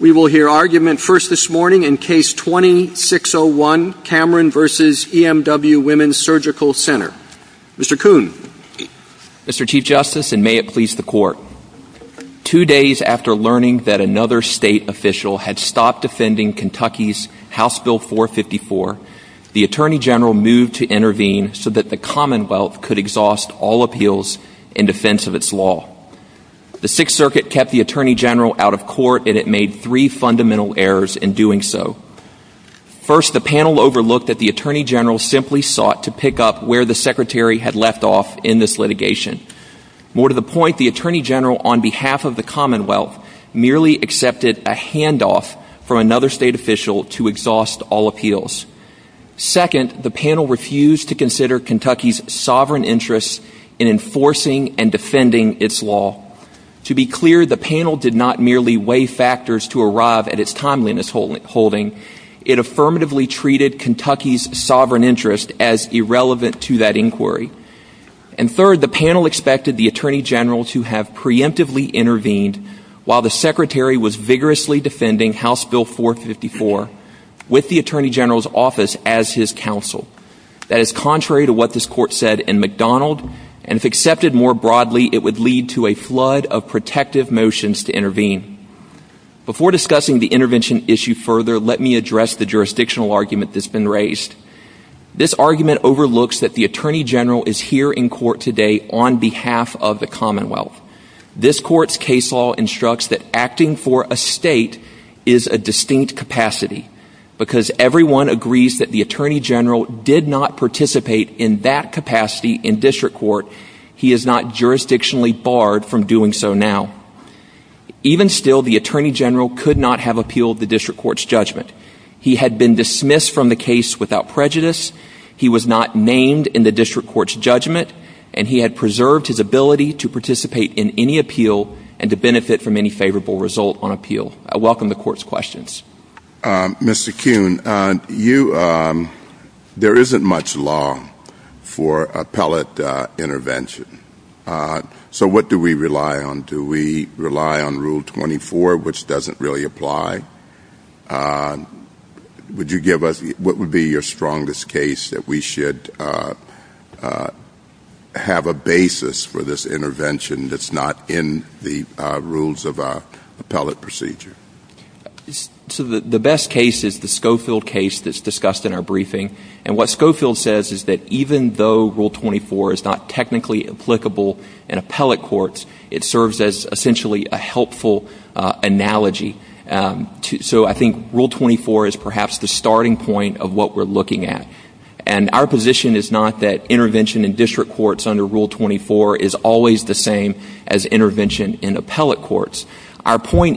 We will hear argument first this morning in Case 2601, Cameron v. EMW Women's Surgical Center. Mr. Kuhn. Mr. Chief Justice, and may it please the Court, two days after learning that another state official had stopped defending Kentucky's House Bill 454, the Attorney General moved to intervene so that the Commonwealth could exhaust all appeals in defense of its law. The Sixth Circuit kept the Attorney General out of court, and it made three fundamental errors in doing so. First, the panel overlooked that the Attorney General simply sought to pick up where the Secretary had left off in this litigation. More to the point, the Attorney General, on behalf of the Commonwealth, merely accepted a handoff from another state official to exhaust all appeals. Second, the panel refused to consider Kentucky's sovereign interests in enforcing and defending its law. To be clear, the panel did not merely weigh factors to arrive at its timeliness holding. It affirmatively treated Kentucky's sovereign interests as irrelevant to that inquiry. And third, the panel expected the Attorney General to have preemptively intervened while the Secretary was vigorously defending House Bill 454 with the Attorney General's office as his counsel. That is contrary to what this Court said in McDonald, and if accepted more than that, it would lead to a flood of protective motions to intervene. Before discussing the intervention issue further, let me address the jurisdictional argument that has been raised. This argument overlooks that the Attorney General is here in court today on behalf of the Commonwealth. This Court's case law instructs that acting for a state is a distinct capacity. Because everyone agrees that the Attorney General did not participate in that capacity in district court, he is not jurisdictionally barred from doing so now. Even still, the Attorney General could not have appealed the district court's judgment. He had been dismissed from the case without prejudice, he was not named in the district court's judgment, and he had preserved his ability to participate in any appeal and to benefit from any favorable result on appeal. I welcome the Court's questions. Mr. Kuhn, there isn't much law for appellate intervention. So what do we rely on? Do we rely on Rule 24, which doesn't really apply? What would be your strongest case that we should have a basis for this intervention that's not in the rules of appellate procedure? So the best case is the Schofield case that's discussed in our briefing. And what Schofield says is that even though Rule 24 is not technically applicable in appellate courts, it serves as essentially a helpful analogy. So I think Rule 24 is perhaps the starting point of what we're looking at. And our position is not that intervention in district courts under Our point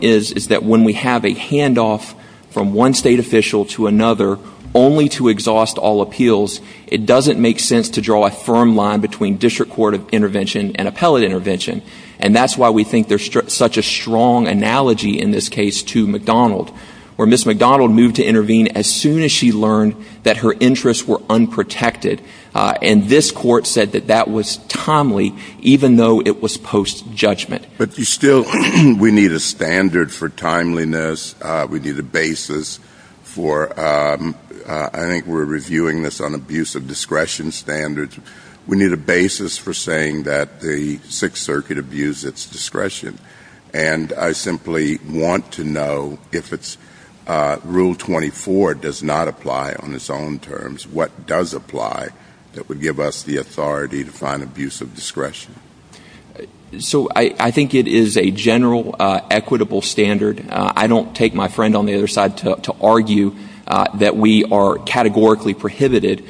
is that when we have a handoff from one state official to another only to exhaust all appeals, it doesn't make sense to draw a firm line between district court intervention and appellate intervention. And that's why we think there's such a strong analogy in this case to McDonald, where Ms. McDonald moved to intervene as soon as she learned that her interests were unprotected. And this court said that that was timely, even though it was post-judgment. But you still, we need a standard for timeliness. We need a basis for, I think we're reviewing this on abuse of discretion standards. We need a basis for saying that the Sixth Circuit abused its discretion. And I simply want to know if Rule 24 does not apply on its own So I think it is a general equitable standard. I don't take my friend on the other side to argue that we are categorically prohibited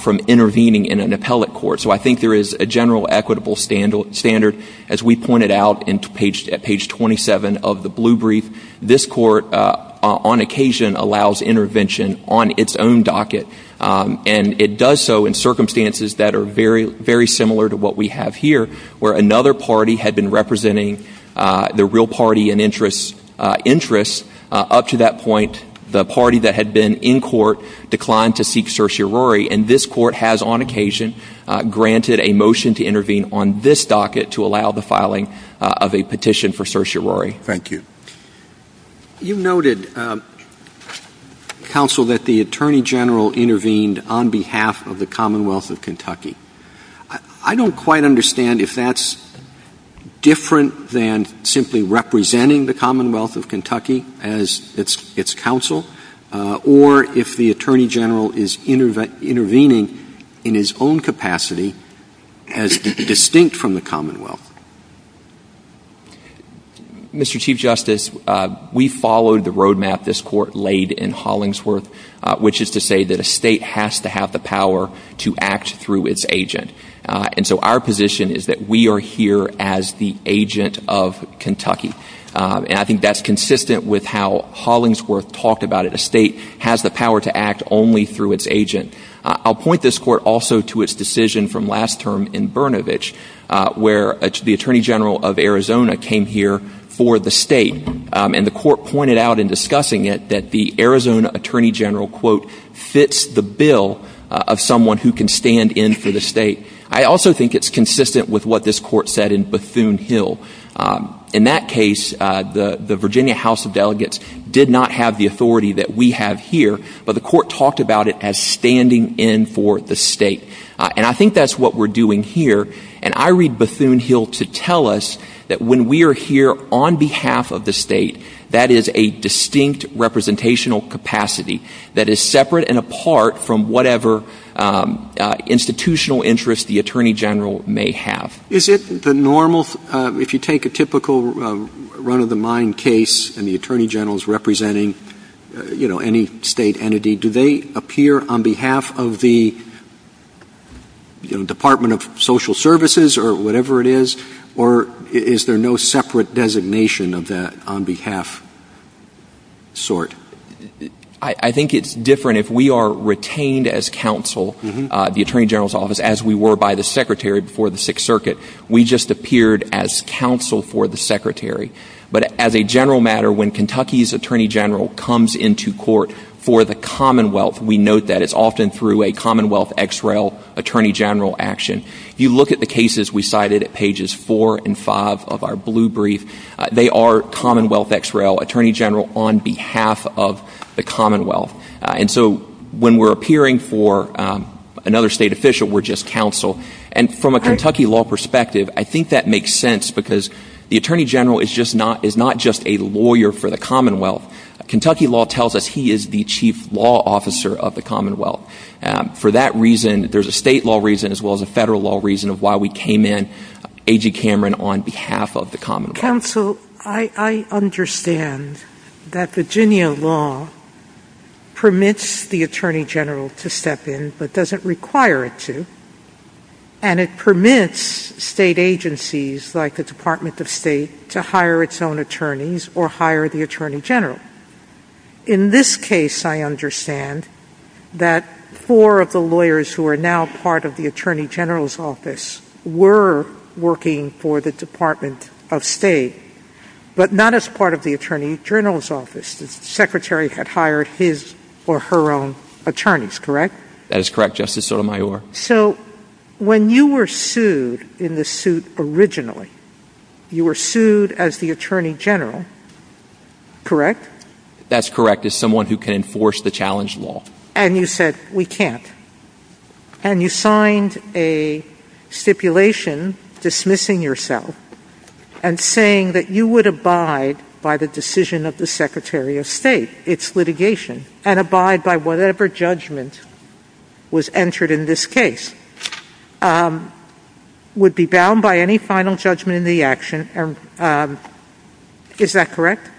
from intervening in an appellate court. So I think there is a general equitable standard. As we pointed out at page 27 of the Blue Brief, this court on occasion allows intervention on its own docket. And it does so in circumstances that are very similar to what we have here, where another party had been representing the real party in interest. Up to that point, the party that had been in court declined to seek certiorari. And this court has on occasion granted a motion to intervene on this docket to allow the filing of a petition for certiorari. Thank you. You noted, Counsel, that the Attorney General intervened on behalf of the Commonwealth of Kentucky. I don't quite understand if that's different than simply representing the Commonwealth of Kentucky as its counsel, or if the Attorney General is intervening in his own capacity as distinct from the Commonwealth. Mr. Chief Justice, we followed the roadmap this court laid in Hollingsworth, which is to say that a state has to have the power to act through its agent. And so our position is that we are here as the agent of Kentucky. And I think that's consistent with how Hollingsworth talked about it. A state has the power to act only through its agent. I'll point this Arizona came here for the state. And the court pointed out in discussing it that the Arizona Attorney General, quote, fits the bill of someone who can stand in for the state. I also think it's consistent with what this court said in Bethune Hill. In that case, the Virginia House of Delegates did not have the authority that we have here, but the court talked about it as standing in for the state. And I think that's what we're doing here. And I read Bethune Hill to tell us that when we are here on behalf of the state, that is a distinct representational capacity that is separate and apart from whatever institutional interest the Attorney General may have. Is it the normal, if you take a typical run-of-the-mind case and the Attorney General is representing any state entity, do they appear on behalf of the Department of Social Services or whatever it is? Or is there no separate designation of that on behalf sort? I think it's different if we are retained as counsel, the Attorney General's office, as we were by the Secretary for the Sixth Circuit. We just appeared as counsel for the for the Commonwealth. We note that it's often through a Commonwealth X-Rail Attorney General action. You look at the cases we cited at pages 4 and 5 of our Blue Brief, they are Commonwealth X-Rail Attorney General on behalf of the Commonwealth. And so when we're appearing for another state official, we're just counsel. And from a Kentucky law perspective, I think that makes sense because the Attorney General is not just a lawyer for the Commonwealth. Kentucky law tells us he is the chief law officer of the Commonwealth. For that reason, there's a state law reason as well as a federal law reason of why we came in A.G. Cameron on behalf of the Commonwealth. Counsel, I understand that Virginia law permits the Attorney General to step in but doesn't require it to, and it permits state agencies like the Department of State to hire its own attorneys or hire the Attorney General. In this case, I understand that four of the lawyers who are now part of the Attorney General's office were working for the Department of State, but not as part of the Attorney General's office. The Secretary had hired his or her own attorneys, correct? That is correct, Justice Sotomayor. So when you were sued in the suit originally, you were sued as the Attorney General, correct? That's correct, as someone who can enforce the challenge law. And you said, we can't. And you signed a stipulation dismissing yourself and saying that you would abide by the decision of the Secretary of State, its litigation, and abide by whatever judgment was entered in this case, would be bound by any final judgment in the action. Is that correct?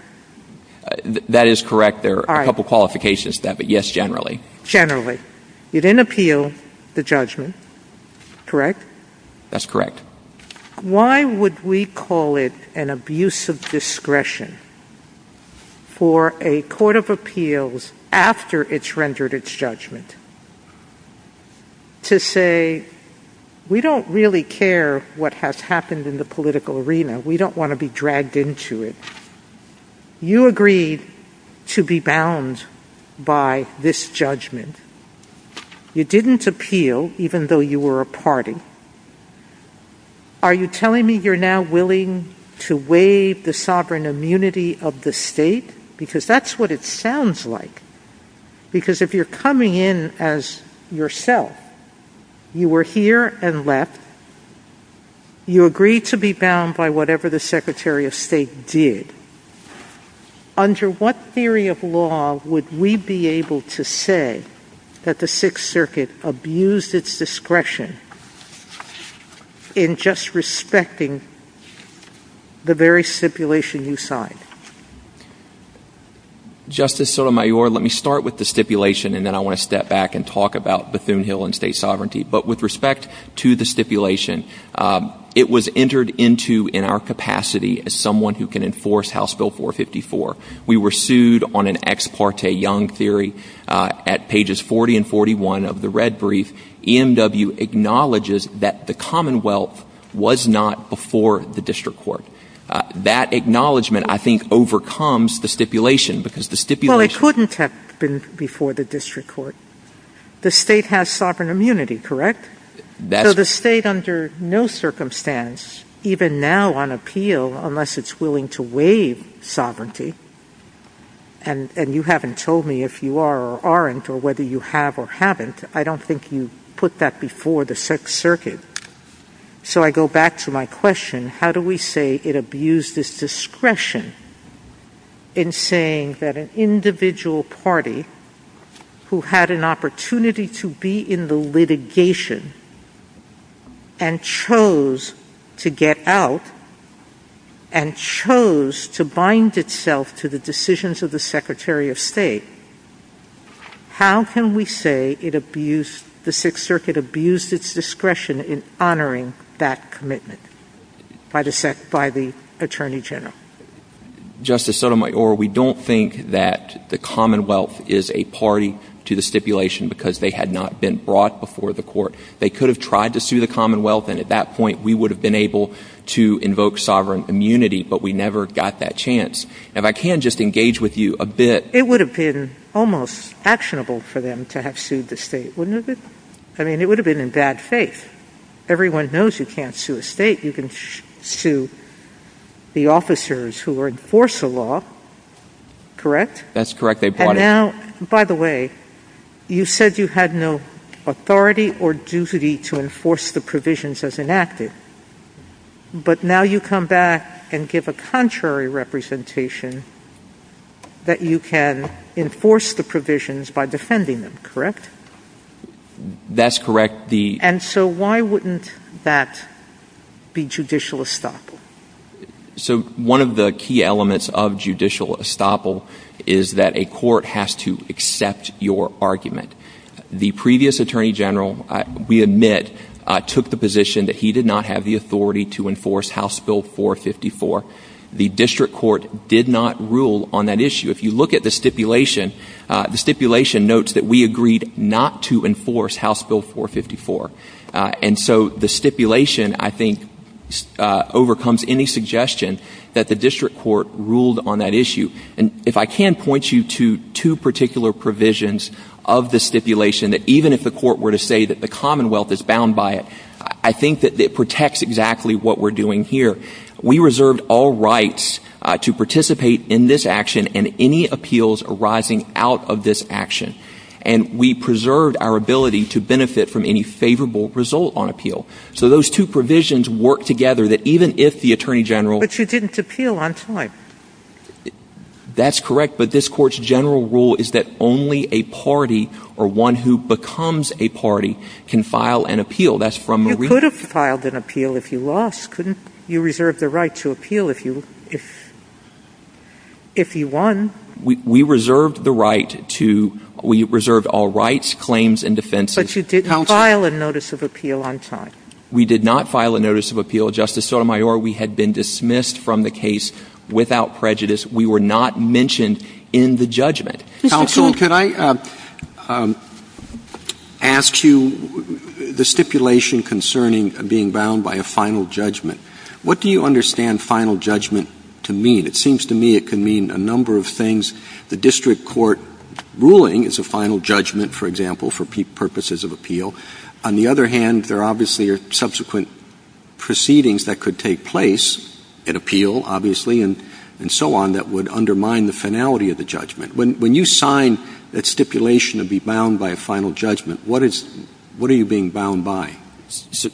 That is correct. There are a couple qualifications to that, but yes, generally. Generally. You didn't appeal the judgment, correct? That's correct. Why would we call it an abuse of discretion for a court of appeals, after it's rendered its judgment, to say, we don't really care what has happened in the political arena. We don't want to be dragged into it. You agreed to be bound by this judgment. You didn't appeal, even though you were a party. Are you telling me you're now willing to waive the sovereign immunity of the state? Because that's what it sounds like. Because if you're coming in as yourself, you were here and left, you agreed to be bound by whatever the Secretary of State did, under what theory of law would we be able to say that the Sixth Circuit abused its discretion in just respecting the very stipulation you signed? Justice Sotomayor, let me start with the stipulation, and then I want to step back and talk about Bethune-Hill and state sovereignty. But with respect to the stipulation, it was entered into, in our capacity, as someone who can enforce House Bill 454. We were sued on an ex parte young theory at pages 40 and 41 of the red brief. EMW acknowledges that the Commonwealth was not before the district court. That acknowledgement, I think, overcomes the stipulation, because the stipulation… Well, it couldn't have been before the district court. The state has sovereign immunity, correct? So the state, under no circumstance, even now on appeal, unless it's willing to waive sovereignty, and you haven't told me if you are or aren't, or whether you have or haven't, I don't think you put that before the Sixth Circuit. So I go back to my question, how do we say it abused its discretion in saying that an individual party who had an opportunity to be in the litigation and chose to get out and chose to bind itself to the decisions of the Secretary of State, how can we say the Sixth Circuit abused its discretion in honoring that commitment by the Attorney General? Justice Sotomayor, we don't think that the Commonwealth is a party to the stipulation because they had not been brought before the court. They could have tried to sue the Commonwealth, and at that point, we would have been able to invoke sovereign immunity, but we never got that chance. If I can just engage with you a bit… It would have been almost actionable for them to have sued the state, wouldn't it? I mean, it would have been in bad faith. Everyone knows you can't sue a state. You can sue the officers who enforce the law, correct? That's correct. They bought it. Now, by the way, you said you had no authority or duty to enforce the provisions as enacted, but now you come back and give a contrary representation that you can enforce the provisions by defending them, correct? That's correct. And so why wouldn't that be judicial estoppel? So one of the key elements of judicial estoppel is that a court has to accept your argument. The previous Attorney General, we admit, took the position that he did not have the authority to enforce House Bill 454. The district court did not rule on that issue. If you look at the stipulation, the stipulation notes that we agreed not to enforce House Bill 454. And so the stipulation, I think, overcomes any suggestion that the district court ruled on that issue. And if I can point you to two particular provisions of the stipulation, that even if the court were to say that the Commonwealth is bound by it, I think that it protects exactly what we're doing here. We reserved all rights to participate in this action and any appeals arising out of this action. And we preserved our ability to benefit from any favorable result on appeal. So those two provisions work together that even if the Attorney General... But you didn't appeal on time. That's correct, but this court's general rule is that only a party or one who becomes a party can file an appeal. You could have filed an appeal if you lost, couldn't you? You reserved the right to appeal if you won. We reserved all rights, claims, and defenses. But you didn't file a notice of appeal on time. We did not file a notice of appeal, Justice Sotomayor. We had been dismissed from the case without prejudice. We were not mentioned in the judgment. Counsel, can I ask you the stipulation concerning being bound by a final judgment? What do you understand final judgment to mean? It seems to me it can mean a number of things. The district court ruling is a final judgment, for example, for purposes of appeal. On the other hand, there are obviously subsequent proceedings that could take place in appeal, obviously, and so on, that would undermine the finality of the judgment. When you sign a stipulation to be bound by a final judgment, what are you being bound by?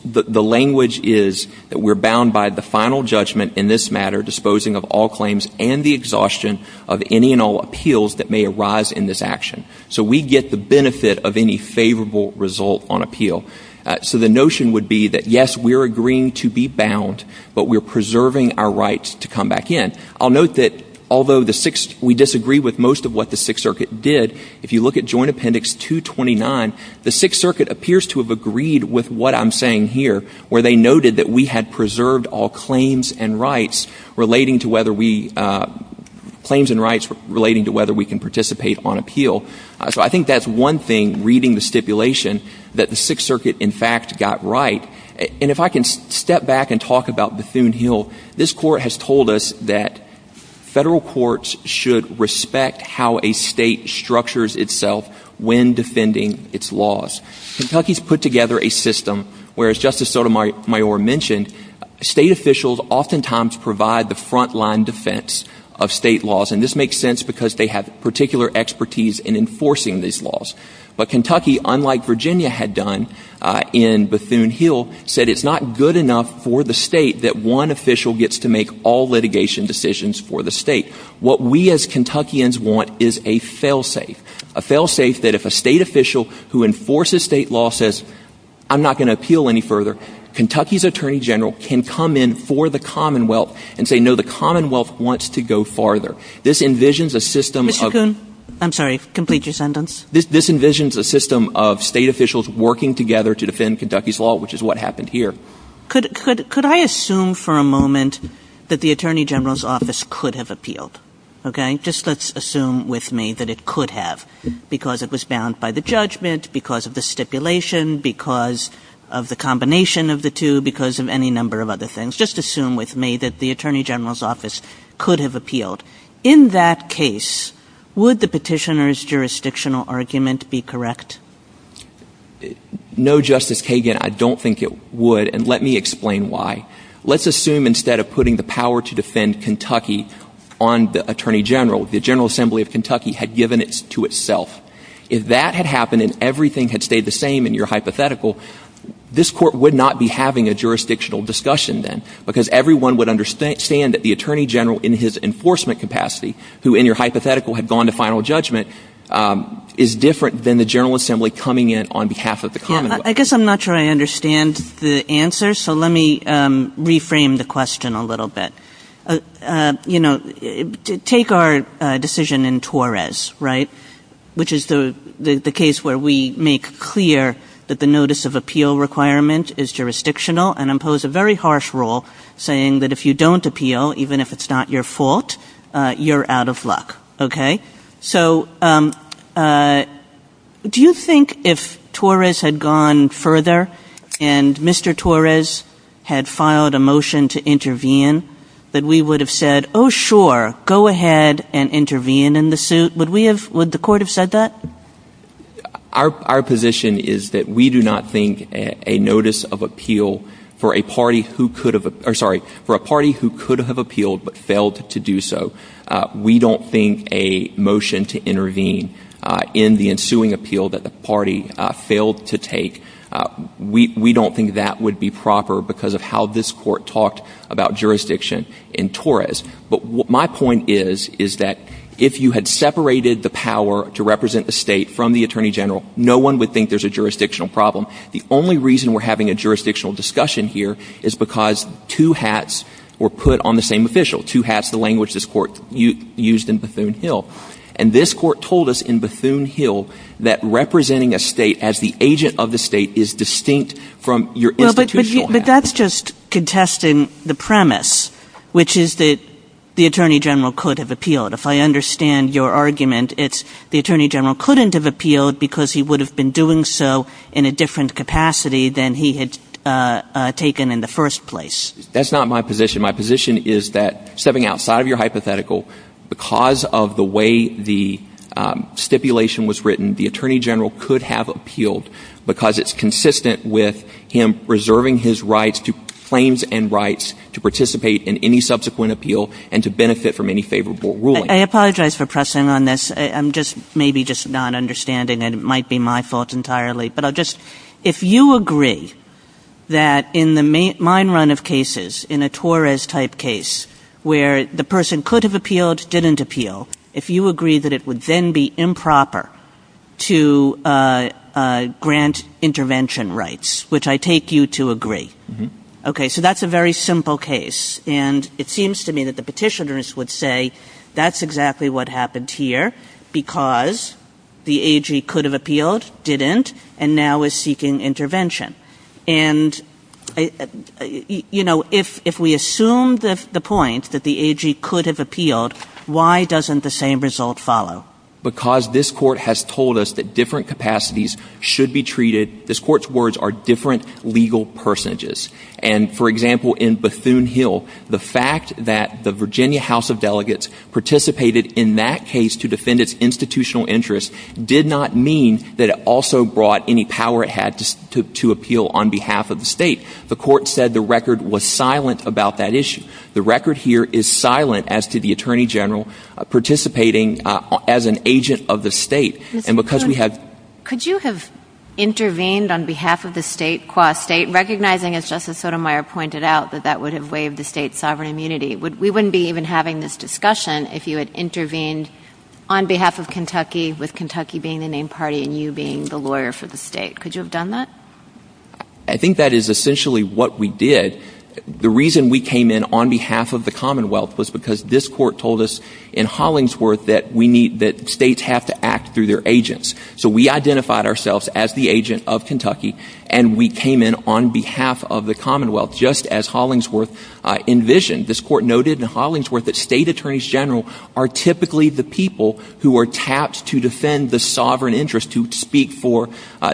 The language is that we're bound by the final judgment in this matter, disposing of all claims and the exhaustion of any and all appeals that may arise in this action. So we get the benefit of any favorable result on appeal. So the notion would be that, yes, we're agreeing to be bound, but we're preserving our rights to come back in. I'll note that although we disagree with most of what the Sixth Circuit did, if you look at Joint Appendix 229, the Sixth Circuit appears to have agreed with what I'm saying here, where they noted that we had preserved all claims and rights relating to whether we can participate on appeal. So I think that's one thing, reading the stipulation, that the Sixth Circuit in fact got right. And if I can step back and talk about Bethune Hill, this court has told us that federal courts should respect how a state structures itself when defending its laws. Kentucky's put together a system where, as Justice Sotomayor mentioned, state officials oftentimes provide the front-line defense of state laws, and this makes sense because they have particular expertise in enforcing these laws. But Kentucky, unlike Virginia had done in Bethune Hill, said it's not good enough for the state that one official gets to make all litigation decisions for the state. What we as Kentuckians want is a fail-safe. A fail-safe that if a state official who enforces state law says, I'm not going to appeal any further, Kentucky's Attorney General can come in for the Commonwealth and say, no, the Commonwealth wants to go farther. This envisions a system of… Mr. Kuhn, I'm sorry, complete your sentence. This envisions a system of state officials working together to defend Kentucky's law, which is what happened here. Could I assume for a moment that the Attorney General's office could have appealed? Okay, just let's assume with me that it could have, because it was bound by the judgment, because of the stipulation, because of the combination of the two, because of any number of other things. Just assume with me that the Attorney General's office could have appealed. In that case, would the petitioner's jurisdictional argument be correct? No, Justice Kagan, I don't think it would, and let me explain why. Let's assume instead of putting the power to defend Kentucky on the Attorney General, the General Assembly of Kentucky had given it to itself. If that had happened and everything had stayed the same in your hypothetical, this court would not be having a jurisdictional discussion then, because everyone would understand that the Attorney General in his enforcement capacity, who in your hypothetical had gone to final judgment, is different than the General Assembly coming in on behalf of the Commonwealth. I guess I'm not sure I understand the answer, so let me reframe the question a little bit. Take our decision in Torres, which is the case where we make clear that the notice of appeal requirement is jurisdictional and impose a very harsh rule saying that if you don't appeal, even if it's not your fault, you're out of luck. Do you think if Torres had gone further and Mr. Torres had filed a motion to intervene, that we would have said, oh sure, go ahead and intervene in the suit? Would the court have said that? Our position is that we do not think a notice of appeal for a party who could have appealed but failed to do so, we don't think a motion to intervene in the ensuing appeal that the party failed to take, we don't think that would be proper because of how this court talked about jurisdiction in Torres. But my point is that if you had separated the power to represent the state from the Attorney General, no one would think there's a jurisdictional problem. The only reason we're having a jurisdictional discussion here is because two hats were put on the same official. Two hats, the language this court used in Bethune-Hill. And this court told us in Bethune-Hill that representing a state as the agent of the state is distinct from your institutional… But that's just contesting the premise, which is that the Attorney General could have appealed. If I understand your argument, it's the Attorney General couldn't have appealed because he would have been doing so in a different capacity than he had taken in the first place. That's not my position. My position is that, stepping outside of your hypothetical, because of the way the stipulation was written, the Attorney General could have appealed because it's consistent with him reserving his rights to claims and rights to participate in any subsequent appeal and to benefit from any favorable ruling. I apologize for pressing on this. I'm maybe just not understanding, and it might be my fault entirely. But if you agree that in the main run of cases, in a Torres-type case, where the person could have appealed, didn't appeal, if you agree that it would then be improper to grant intervention rights, which I take you to agree. Okay, so that's a very simple case. And it seems to me that the petitioners would say that's exactly what happened here because the AG could have appealed, didn't, and now is seeking intervention. And if we assume the point that the AG could have appealed, why doesn't the same result follow? Because this Court has told us that different capacities should be treated… This Court's words are different legal personages. And, for example, in Bethune Hill, the fact that the Virginia House of Delegates participated in that case to defend its institutional interests did not mean that it also brought any power it had to appeal on behalf of the state. The Court said the record was silent about that issue. The record here is silent as to the Attorney General participating as an agent of the state. Could you have intervened on behalf of the state, qua state, recognizing, as Justice Sotomayor pointed out, that that would have waived the state's sovereign immunity? We wouldn't be even having this discussion if you had intervened on behalf of Kentucky with Kentucky being the main party and you being the lawyer for the state. Could you have done that? I think that is essentially what we did. The reason we came in on behalf of the Commonwealth was because this Court told us in Hollingsworth that states have to act through their agents. So we identified ourselves as the agent of Kentucky, and we came in on behalf of the Commonwealth, just as Hollingsworth envisioned. This Court noted in Hollingsworth that state attorneys general are typically the people who are tasked to defend the sovereign interest, to speak for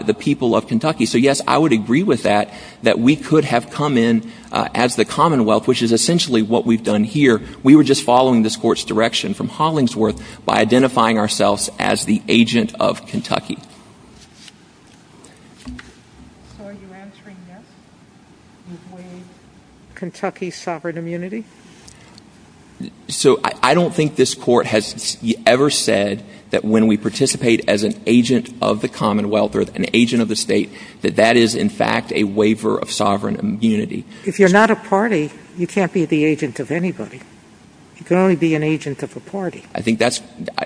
the people of Kentucky. So, yes, I would agree with that, that we could have come in as the Commonwealth, which is essentially what we've done here. We were just following this Court's direction from Hollingsworth by identifying ourselves as the agent of Kentucky. So are you answering that? Kentucky's sovereign immunity? So I don't think this Court has ever said that when we participate as an agent of the Commonwealth or an agent of the state, that that is in fact a waiver of sovereign immunity. If you're not a party, you can't be the agent of anybody. You can only be an agent of a party.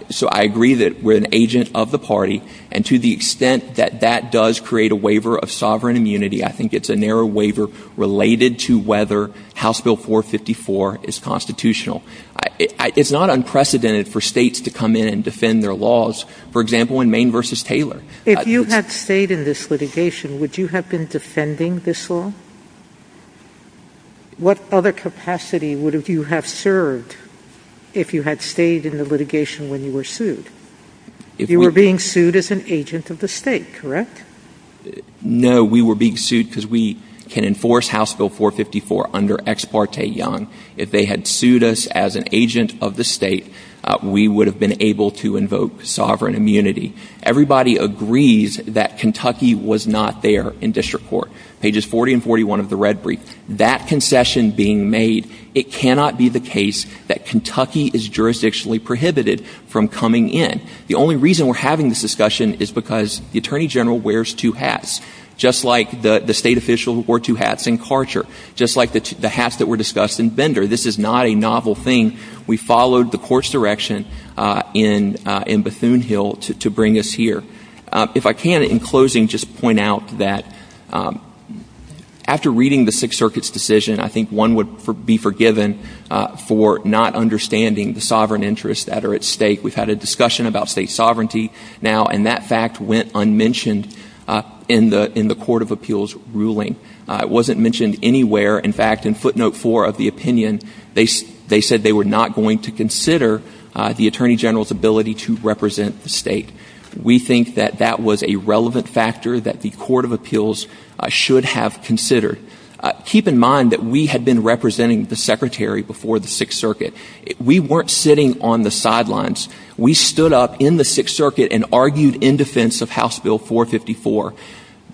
So I agree that we're an agent of the party, and to the extent that that does create a waiver of sovereign immunity, I think it's a narrow waiver related to whether House Bill 454 is constitutional. It's not unprecedented for states to come in and defend their laws. For example, in Maine v. Taylor. If you had stayed in this litigation, would you have been defending this law? What other capacity would you have served if you had stayed in the litigation when you were sued? You were being sued as an agent of the state, correct? No, we were being sued because we can enforce House Bill 454 under Ex Parte Young. If they had sued us as an agent of the state, we would have been able to invoke sovereign immunity. Everybody agrees that Kentucky was not there in district court. Pages 40 and 41 of the red brief. That concession being made, it cannot be the case that Kentucky is jurisdictionally prohibited from coming in. The only reason we're having this discussion is because the Attorney General wears two hats, just like the state officials who wore two hats in Karcher, just like the hats that were discussed in Bender. This is not a novel thing. We followed the court's direction in Bethune Hill to bring us here. If I can, in closing, just point out that after reading the Sixth Circuit's decision, I think one would be forgiven for not understanding the sovereign interests that are at stake. We've had a discussion about state sovereignty now, and that fact went unmentioned in the Court of Appeals ruling. It wasn't mentioned anywhere. In fact, in footnote four of the opinion, they said they were not going to consider the Attorney General's ability to represent the state. We think that that was a relevant factor that the Court of Appeals should have considered. Keep in mind that we had been representing the Secretary before the Sixth Circuit. We weren't sitting on the sidelines. We stood up in the Sixth Circuit and argued in defense of House Bill 454.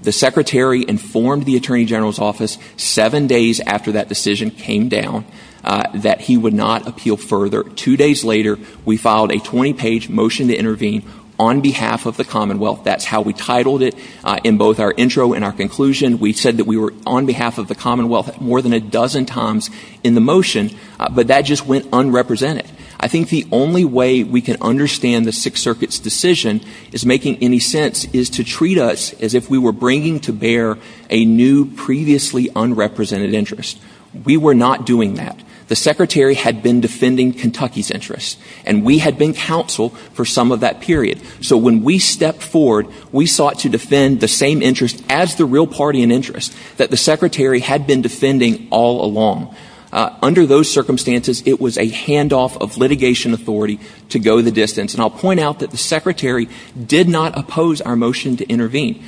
The Secretary informed the Attorney General's office seven days after that decision came down that he would not appeal further. Two days later, we filed a 20-page motion to intervene on behalf of the Commonwealth. That's how we titled it in both our intro and our conclusion. We said that we were on behalf of the Commonwealth more than a dozen times in the motion, but that just went unrepresented. I think the only way we can understand the Sixth Circuit's decision is making any sense is to treat us as if we were bringing to bear a new, previously unrepresented interest. We were not doing that. The Secretary had been defending Kentucky's interests, and we had been counsel for some of that period. So when we stepped forward, we sought to defend the same interests as the real party in interest that the Secretary had been defending all along. Under those circumstances, it was a handoff of litigation authority to go the distance. And I'll point out that the Secretary did not oppose our motion to intervene.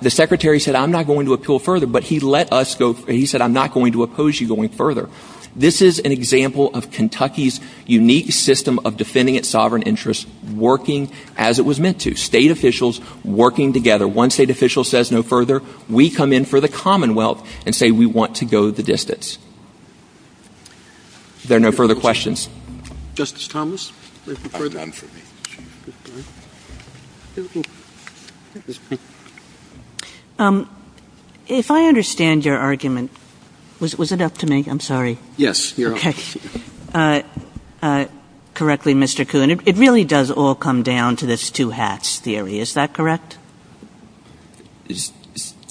The Secretary said, I'm not going to appeal further, but he let us go. He said, I'm not going to oppose you going further. This is an example of Kentucky's unique system of defending its sovereign interests working as it was meant to. State officials working together. Once a state official says no further, we come in for the Commonwealth and say we want to go the distance. There are no further questions. Justice Thomas. If I understand your argument, was it up to me? I'm sorry. Yes. Okay. Correctly, Mr. Kuhn. It really does all come down to this two hats theory. Is that correct?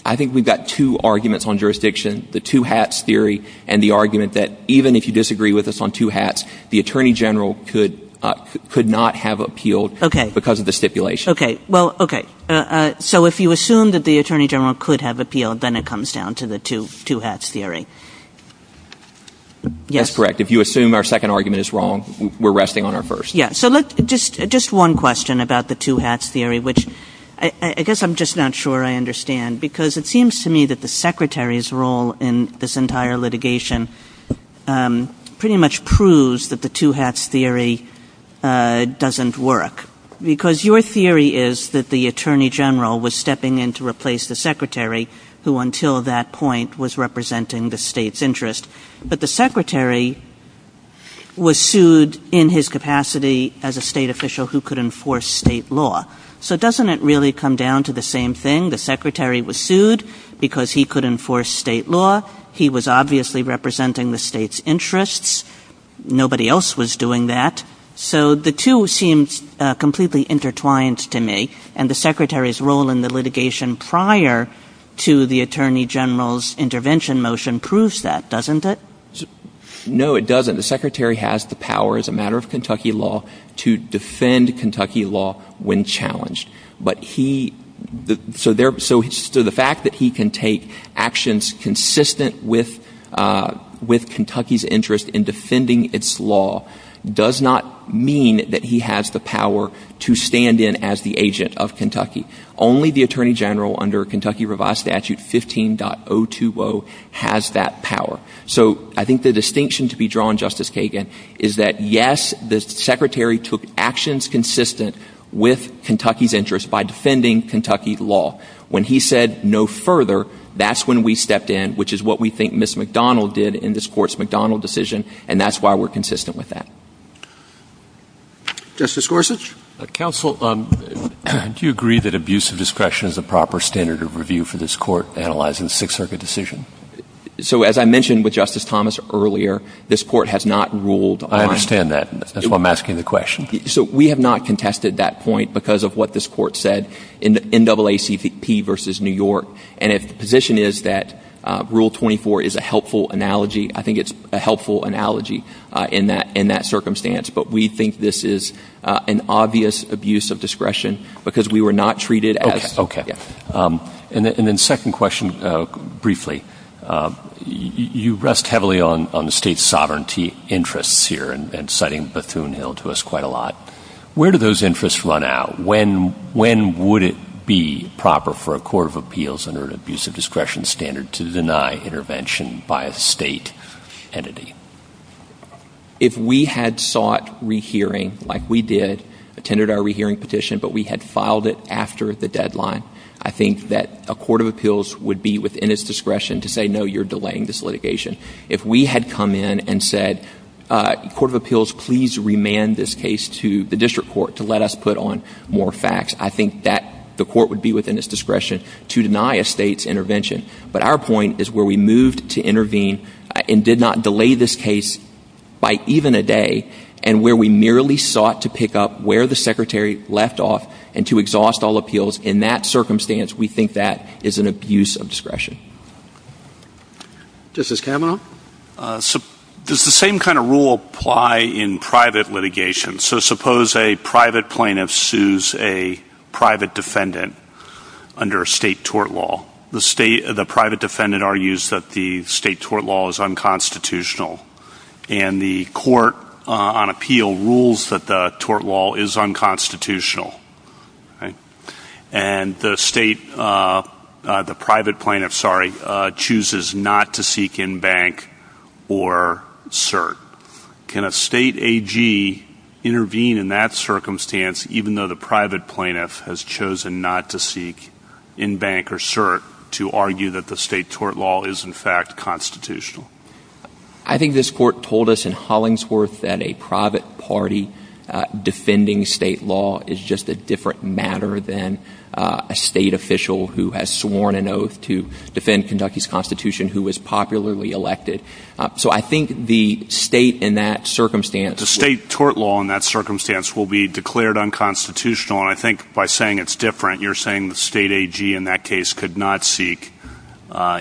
I think we've got two arguments on jurisdiction. The two hats theory and the argument that even if you disagree with us on two hats, the Attorney General could not have appealed because of the stipulation. Okay. If you assume that the Attorney General could have appealed, then it comes down to the two hats theory. That's correct. If you assume our second argument is wrong, we're resting on our first. Just one question about the two hats theory, which I guess I'm just not sure I understand. It seems to me that the Secretary's role in this entire litigation pretty much proves that the two hats theory doesn't work. Because your theory is that the Attorney General was stepping in to replace the Secretary, who until that point was representing the state's interest. But the Secretary was sued in his capacity as a state official who could enforce state law. So doesn't it really come down to the same thing? The Secretary was sued because he could enforce state law. He was obviously representing the state's interests. Nobody else was doing that. So the two seem completely intertwined to me. And the Secretary's role in the litigation prior to the Attorney General's intervention motion proves that, doesn't it? No, it doesn't. The Secretary has the power as a matter of Kentucky law to defend Kentucky law when challenged. So the fact that he can take actions consistent with Kentucky's interest in defending its law does not mean that he has the power to stand in as the agent of Kentucky. Only the Attorney General under Kentucky Revised Statute 15.020 has that power. So I think the distinction to be drawn, Justice Kagan, is that yes, the Secretary took actions consistent with Kentucky's interests by defending Kentucky law. When he said no further, that's when we stepped in, which is what we think Ms. McDonald did in this Court's McDonald decision, and that's why we're consistent with that. Justice Gorsuch? Counsel, do you agree that abuse of discretion is a proper standard of review for this Court analyzing the Sixth Circuit decision? So as I mentioned with Justice Thomas earlier, this Court has not ruled on— I understand that. That's why I'm asking the question. So we have not contested that point because of what this Court said in NAACP v. New York. And if the position is that Rule 24 is a helpful analogy, I think it's a helpful analogy in that circumstance. But we think this is an obvious abuse of discretion because we were not treated as— And then second question briefly. You rest heavily on the state's sovereignty interests here and citing Bethune-Hill to us quite a lot. Where do those interests run out? When would it be proper for a court of appeals under an abuse of discretion standard to deny intervention by a state entity? If we had sought rehearing like we did, attended our rehearing petition, but we had filed it after the deadline, I think that a court of appeals would be within its discretion to say, no, you're delaying this litigation. If we had come in and said, court of appeals, please remand this case to the district court to let us put on more facts, I think that the court would be within its discretion to deny a state's intervention. But our point is where we moved to intervene and did not delay this case by even a day and where we merely sought to pick up where the secretary left off and to exhaust all appeals in that circumstance, we think that is an abuse of discretion. This is Cameron. Does the same kind of rule apply in private litigation? So suppose a private plaintiff sues a private defendant under a state tort law. The private defendant argues that the state tort law is unconstitutional, and the court on appeal rules that the tort law is unconstitutional. And the private plaintiff chooses not to seek in bank or cert. Can a state AG intervene in that circumstance, even though the private plaintiff has chosen not to seek in bank or cert to argue that the state tort law is in fact constitutional? I think this court told us in Hollingsworth that a private party defending state law is just a different matter than a state official who has sworn an oath to defend Kentucky's constitution who was popularly elected. So I think the state in that circumstance... The state tort law in that circumstance will be declared unconstitutional, and I think by saying it's different, you're saying the state AG in that case could not seek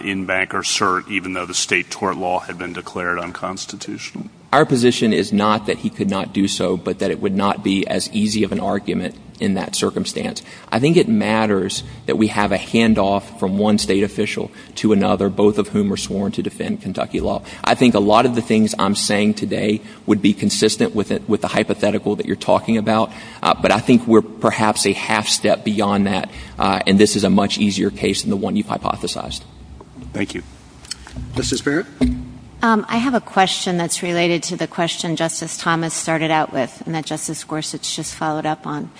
in bank or cert, even though the state tort law had been declared unconstitutional. Our position is not that he could not do so, but that it would not be as easy of an argument in that circumstance. I think it matters that we have a handoff from one state official to another, both of whom are sworn to defend Kentucky law. I think a lot of the things I'm saying today would be consistent with the hypothetical that you're talking about, but I think we're perhaps a half step beyond that, and this is a much easier case than the one you've hypothesized. Thank you. Justice Barrett? I have a question that's related to the question Justice Thomas started out with, and that Justice Gorsuch just followed up on.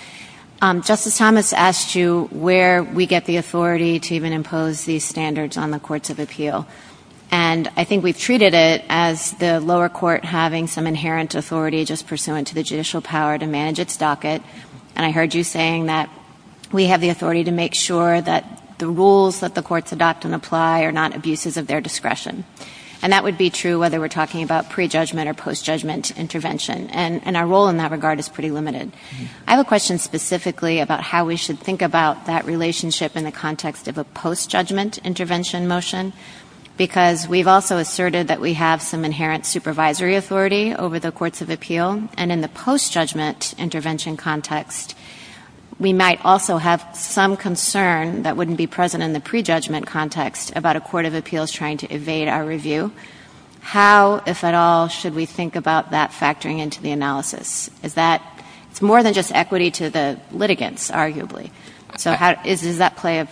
Justice Thomas asked you where we get the authority to even impose these standards on the courts of appeal, and I think we've treated it as the lower court having some inherent authority just pursuant to the judicial power to manage its docket, and I heard you saying that we have the authority to make sure that the rules that the courts adopt and apply are not abuses of their discretion, and that would be true whether we're talking about pre-judgment or post-judgment intervention, and our role in that regard is pretty limited. I have a question specifically about how we should think about that relationship in the context of a post-judgment intervention motion, because we've also asserted that we have some inherent supervisory authority over the courts of appeal, and in the post-judgment intervention context, we might also have some concern that wouldn't be present in the pre-judgment context about a court of appeals trying to evade our review. How, if at all, should we think about that factoring into the analysis? It's more than just equity to the litigants, arguably, so does that play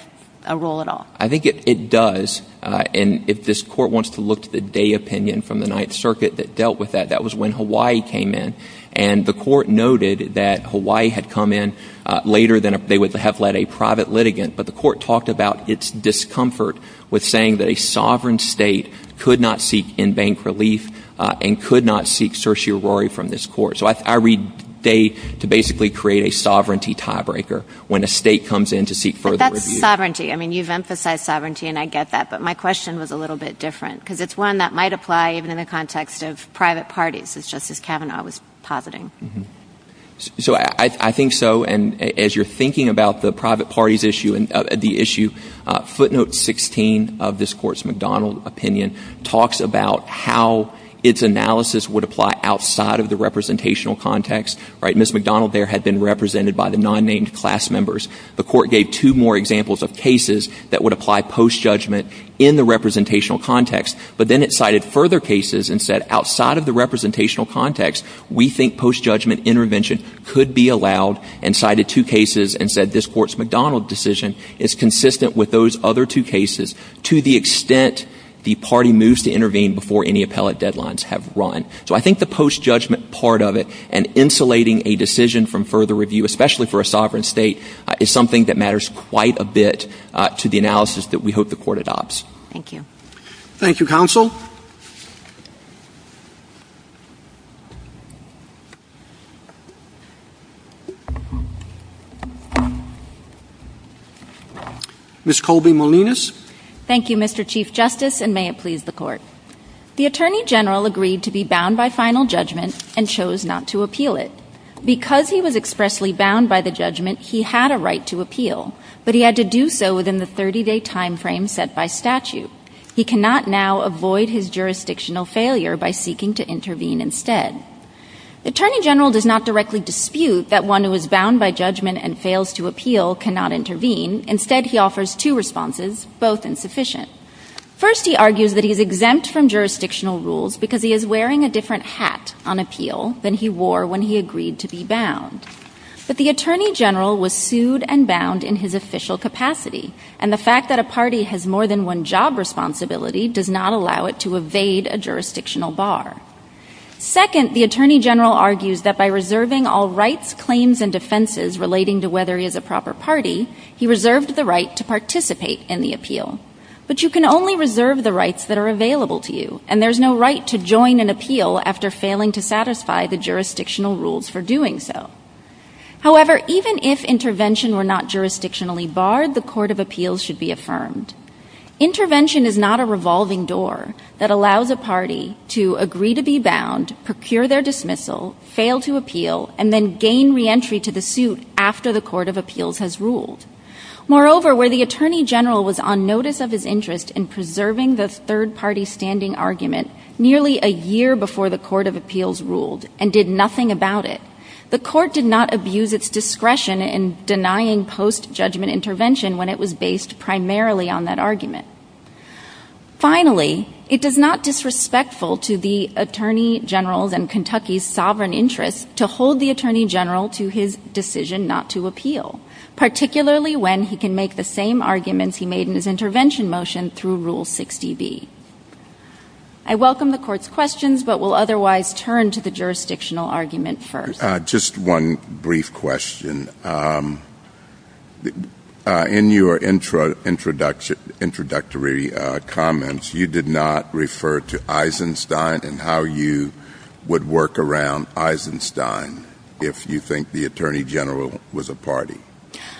a role at all? I think it does, and if this court wants to look to the day opinion from the Ninth Circuit that dealt with that, that was when Hawaii came in, and the court noted that Hawaii had come in later than if they would have let a private litigant, but the court talked about its discomfort with saying that a sovereign state could not seek in-bank relief and could not seek certiorari from this court. So I read they to basically create a sovereignty tiebreaker when a state comes in to seek further review. But that's sovereignty. I mean, you've emphasized sovereignty, and I get that, but my question was a little bit different because it's one that might apply even in the context of private parties, which Justice Kavanaugh was positing. So I think so, and as you're thinking about the private parties issue, footnote 16 of this court's McDonald opinion talks about how its analysis would apply outside of the representational context. Ms. McDonald there had been represented by the non-named class members. The court gave two more examples of cases that would apply post-judgment in the representational context, but then it cited further cases and said outside of the representational context, we think post-judgment intervention could be allowed, and cited two cases and said this court's McDonald decision is consistent with those other two cases to the extent the party moves to intervene before any appellate deadlines have run. So I think the post-judgment part of it and insulating a decision from further review, especially for a sovereign state, is something that matters quite a bit to the analysis that we hope the court adopts. Thank you. Thank you, counsel. Ms. Colby Molinas. Thank you, Mr. Chief Justice, and may it please the court. The Attorney General agreed to be bound by final judgment and chose not to appeal it. Because he was expressly bound by the judgment, he had a right to appeal, but he had to do so within the 30-day timeframe set by statute. He cannot now avoid his jurisdictional failure by seeking to intervene instead. The Attorney General does not directly dispute that one who is bound by judgment and fails to appeal cannot intervene. Instead, he offers two responses, both insufficient. First, he argues that he is exempt from jurisdictional rules because he is wearing a different hat on appeal than he wore when he agreed to be bound. But the Attorney General was sued and bound in his official capacity, and the fact that a party has more than one job responsibility does not allow it to evade a jurisdictional bar. Second, the Attorney General argues that by reserving all rights, claims, and defenses relating to whether he is a proper party, he reserved the right to participate in the appeal. But you can only reserve the rights that are available to you, and there is no right to join an appeal after failing to satisfy the jurisdictional rules for doing so. However, even if intervention were not jurisdictionally barred, the court of appeals should be affirmed. Intervention is not a revolving door that allows a party to agree to be bound, procure their dismissal, fail to appeal, and then gain reentry to the suit after the court of appeals has ruled. Moreover, where the Attorney General was on notice of his interest in preserving the third-party standing argument nearly a year before the court of appeals ruled and did nothing about it, the court did not abuse its discretion in denying post-judgment intervention when it was based primarily on that argument. Finally, it is not disrespectful to the Attorney General's and Kentucky's sovereign interest to hold the Attorney General to his decision not to appeal, particularly when he can make the same arguments he made in his intervention motion through Rule 60B. I welcome the Court's questions, but will otherwise turn to the jurisdictional argument first. Just one brief question. In your introductory comments, you did not refer to Eisenstein and how you would work around Eisenstein if you think the Attorney General was a party.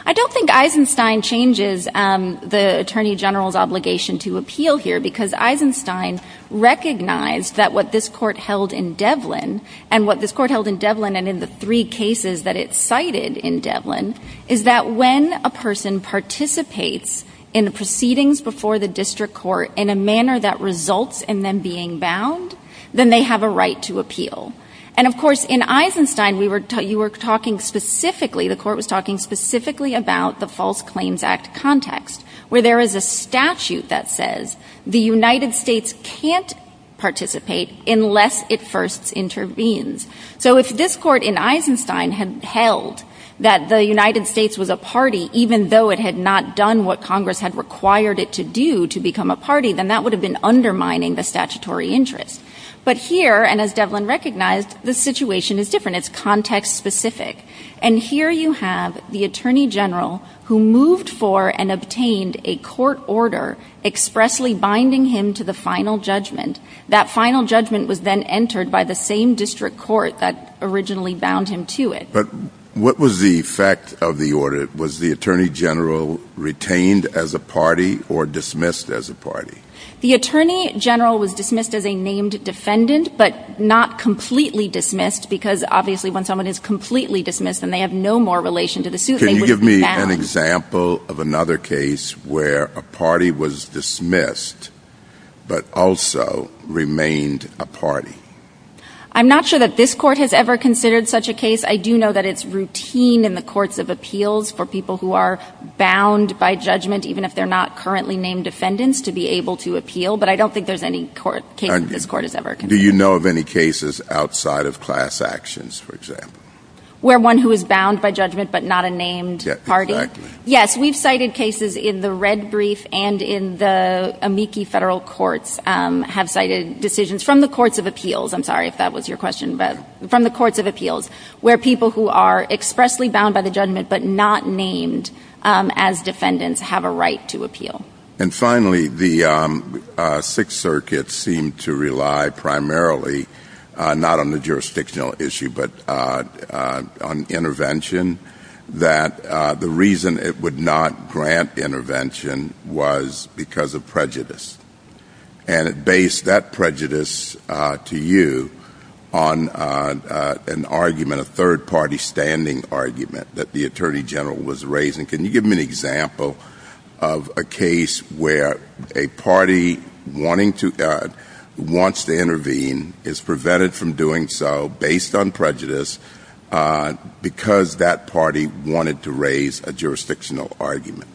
I don't think Eisenstein changes the Attorney General's obligation to appeal here because Eisenstein recognized that what this Court held in Devlin, and what this Court held in Devlin and in the three cases that it cited in Devlin, is that when a person participates in the proceedings before the district court in a manner that results in them being bound, then they have a right to appeal. Of course, in Eisenstein, the Court was talking specifically about the False Claims Act context, where there is a statute that says the United States can't participate unless it first intervenes. If this Court in Eisenstein had held that the United States was a party, even though it had not done what Congress had required it to do to become a party, then that would have been undermining the statutory interest. But here, and as Devlin recognized, the situation is different. It's context-specific. And here you have the Attorney General who moved for and obtained a court order expressly binding him to the final judgment. That final judgment was then entered by the same district court that originally bound him to it. But what was the effect of the order? The Attorney General was dismissed as a named defendant, but not completely dismissed, because obviously when someone is completely dismissed and they have no more relation to the suit, they would be bound. Can you give me an example of another case where a party was dismissed but also remained a party? I'm not sure that this Court has ever considered such a case. I do know that it's routine in the courts of appeals for people who are bound by judgment, even if they're not currently named defendants, to be able to appeal, but I don't think there's any case this Court has ever considered. Do you know of any cases outside of class actions, for example? Where one who is bound by judgment but not a named party? Yes, we've cited cases in the red brief and in the amici federal courts have cited decisions from the courts of appeals, I'm sorry if that was your question, but from the courts of appeals, where people who are expressly bound by the judgment but not named as defendants have a right to appeal. And finally, the Sixth Circuit seemed to rely primarily, not on the jurisdictional issue, but on intervention, that the reason it would not grant intervention was because of prejudice. And it based that prejudice to you on an argument, a third-party standing argument, that the Attorney General was raising. Can you give me an example of a case where a party wants to intervene, is prevented from doing so based on prejudice because that party wanted to raise a jurisdictional argument?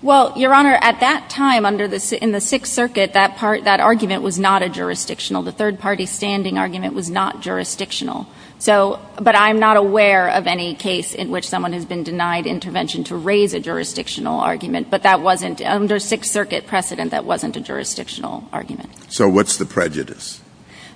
Well, Your Honor, at that time in the Sixth Circuit, that argument was not a jurisdictional. The third-party standing argument was not jurisdictional. But I'm not aware of any case in which someone has been denied intervention to raise a jurisdictional argument, but that wasn't, under Sixth Circuit precedent, that wasn't a jurisdictional argument. So what's the prejudice?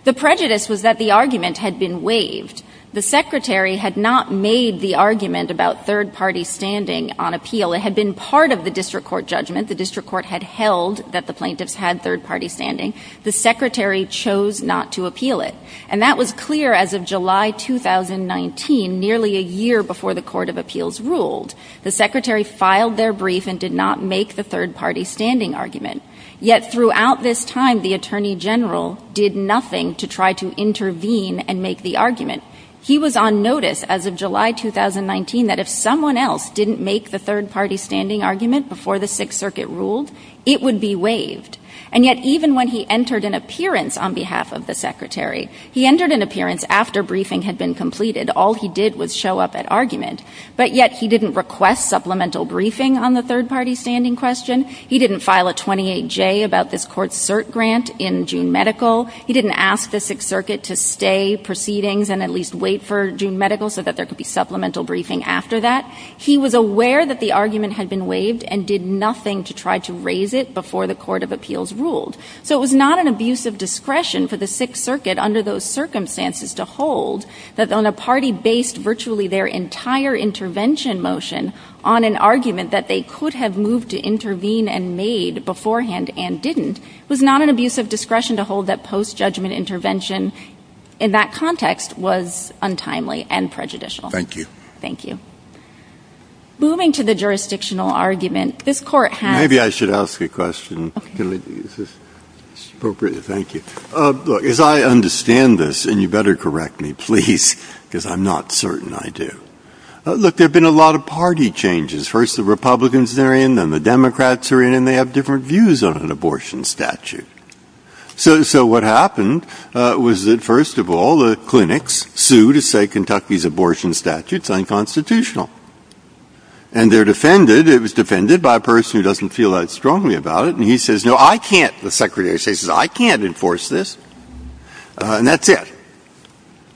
The prejudice was that the argument had been waived. The Secretary had not made the argument about third-party standing on appeal. It had been part of the District Court judgment. The District Court had held that the plaintiffs had third-party standing. The Secretary chose not to appeal it. And that was clear as of July 2019, nearly a year before the Court of Appeals ruled. The Secretary filed their brief and did not make the third-party standing argument. Yet throughout this time, the Attorney General did nothing to try to intervene and make the argument. He was on notice as of July 2019 that if someone else didn't make the third-party standing argument before the Sixth Circuit ruled, it would be waived. And yet even when he entered an appearance on behalf of the Secretary, he entered an appearance after briefing had been completed. All he did was show up at argument. But yet he didn't request supplemental briefing on the third-party standing question. He didn't file a 28-J about this court's cert grant in June medical. He didn't ask the Sixth Circuit to stay proceedings and at least wait for June medical so that there could be supplemental briefing after that. He was aware that the argument had been waived and did nothing to try to raise it before the Court of Appeals ruled. So it was not an abuse of discretion for the Sixth Circuit under those circumstances to hold that on a party based virtually their entire intervention motion on an argument that they could have moved to intervene and made beforehand and didn't. It was not an abuse of discretion to hold that post-judgment intervention in that context was untimely and prejudicial. Thank you. Thank you. Moving to the jurisdictional argument, this court has... Maybe I should ask a question. Thank you. As I understand this, and you better correct me, please, because I'm not certain I do. Look, there have been a lot of party changes. First the Republicans are in, then the Democrats are in, and they have different views on an abortion statute. So what happened was that, first of all, the clinics sued to say Kentucky's abortion statute is unconstitutional. And they're defended. It was defended by a person who doesn't feel that strongly about it, and he says, No, I can't. The Secretary of State says, I can't enforce this. And that's it.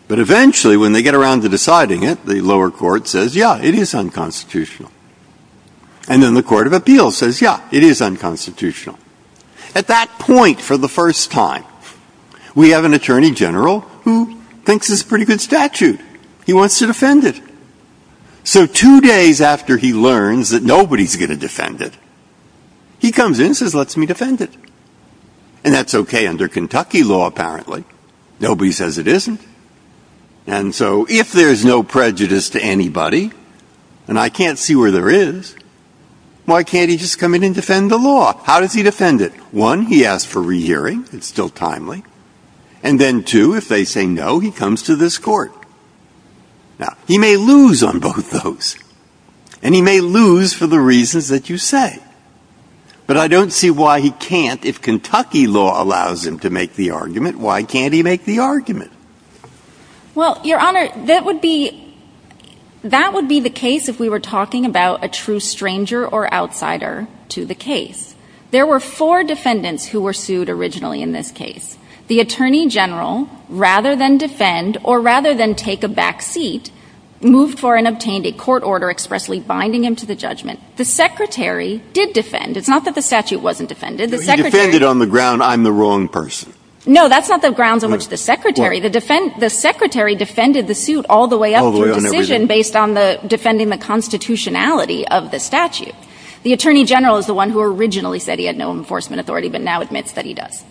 But eventually when they get around to deciding it, the lower court says, Yeah, it is unconstitutional. And then the Court of Appeals says, Yeah, it is unconstitutional. At that point, for the first time, we have an attorney general who thinks it's a pretty good statute. He wants to defend it. So two days after he learns that nobody's going to defend it, he comes in and says, Let's me defend it. And that's okay under Kentucky law, apparently. Nobody says it isn't. And so if there's no prejudice to anybody, and I can't see where there is, why can't he just come in and defend the law? How does he defend it? One, he asks for rehearing. It's still timely. And then two, if they say no, he comes to this court. Now, he may lose on both those. And he may lose for the reasons that you say. But I don't see why he can't. If Kentucky law allows him to make the argument, why can't he make the argument? Well, Your Honor, that would be the case if we were talking about a true stranger or outsider to the case. There were four defendants who were sued originally in this case. The attorney general, rather than defend or rather than take a back seat, moved for and obtained a court order expressly binding him to the judgment. The secretary did defend. It's not that the statute wasn't defended. He defended on the ground I'm the wrong person. No, that's not the grounds on which the secretary. The secretary defended the suit all the way up to his decision based on defending the constitutionality of the statute. The attorney general is the one who originally said he had no enforcement authority, but now admits that he does.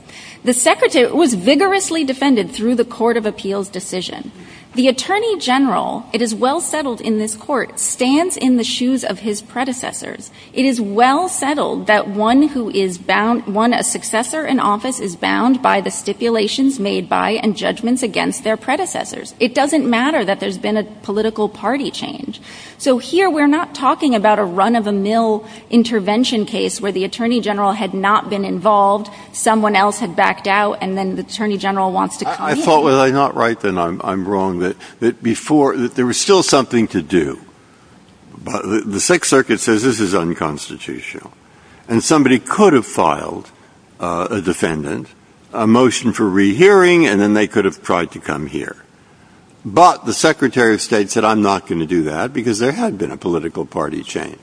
The secretary was vigorously defended through the court of appeals decision. The attorney general, it is well settled in this court, stands in the shoes of his predecessor. It is well settled that one who is bound, one, a successor in office is bound by the stipulations made by and judgments against their predecessors. It doesn't matter that there's been a political party change. So here we're not talking about a run-of-the-mill intervention case where the attorney general had not been involved, someone else had backed out, and then the attorney general wants to come in. I thought, was I not right then? I'm wrong. Before, there was still something to do. The Sixth Circuit says this is unconstitutional. And somebody could have filed a defendant, a motion for rehearing, and then they could have tried to come here. But the secretary of state said, I'm not going to do that because there had been a political party change.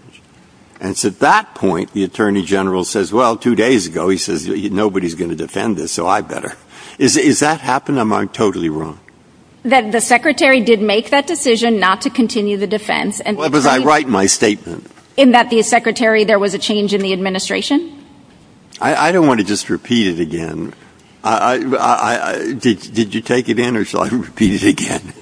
And so at that point, the attorney general says, well, two days ago, he says, nobody's going to defend this, so I better. Is that happened? I'm totally wrong. That the secretary did make that decision not to continue the defense. Well, because I write my statement. In that the secretary, there was a change in the administration? I don't want to just repeat it again. Did you take it in or shall I repeat it again?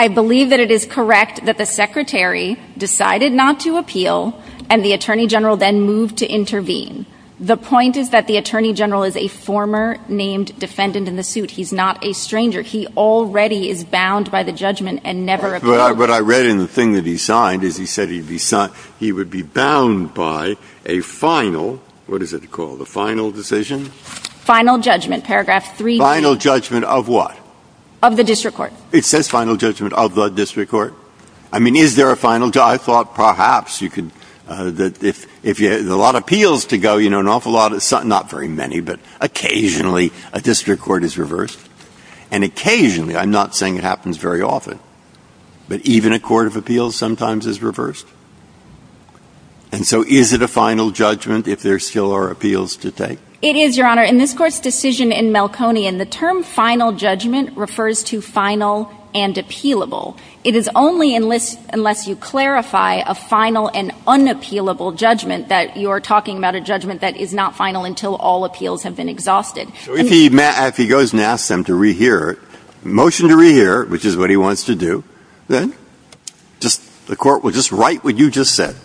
I believe that it is correct that the secretary decided not to appeal and the attorney general then moved to intervene. The point is that the attorney general is a former named defendant in the suit. He's not a stranger. He already is bound by the judgment and never appealed. What I read in the thing that he signed is he said he would be bound by a final, what is it called, a final decision? Final judgment, paragraph 3b. Final judgment of what? Of the district court. It says final judgment of the district court. I mean, is there a final judgment? I thought perhaps you could, if you had a lot of appeals to go, you know, an awful lot but occasionally a district court is reversed. And occasionally, I'm not saying it happens very often, but even a court of appeals sometimes is reversed. And so is it a final judgment if there still are appeals to take? It is, Your Honor. In this court's decision in Melconian, the term final judgment refers to final and appealable. It is only unless you clarify a final and unappealable judgment that you are talking about a judgment that is not final until all appeals have been exhausted. So if he goes and asks them to re-hear, motion to re-hear, which is what he wants to do, then? The court would just write what you just said.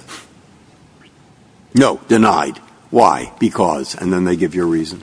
No, denied. Why? Because. And then they give you a reason.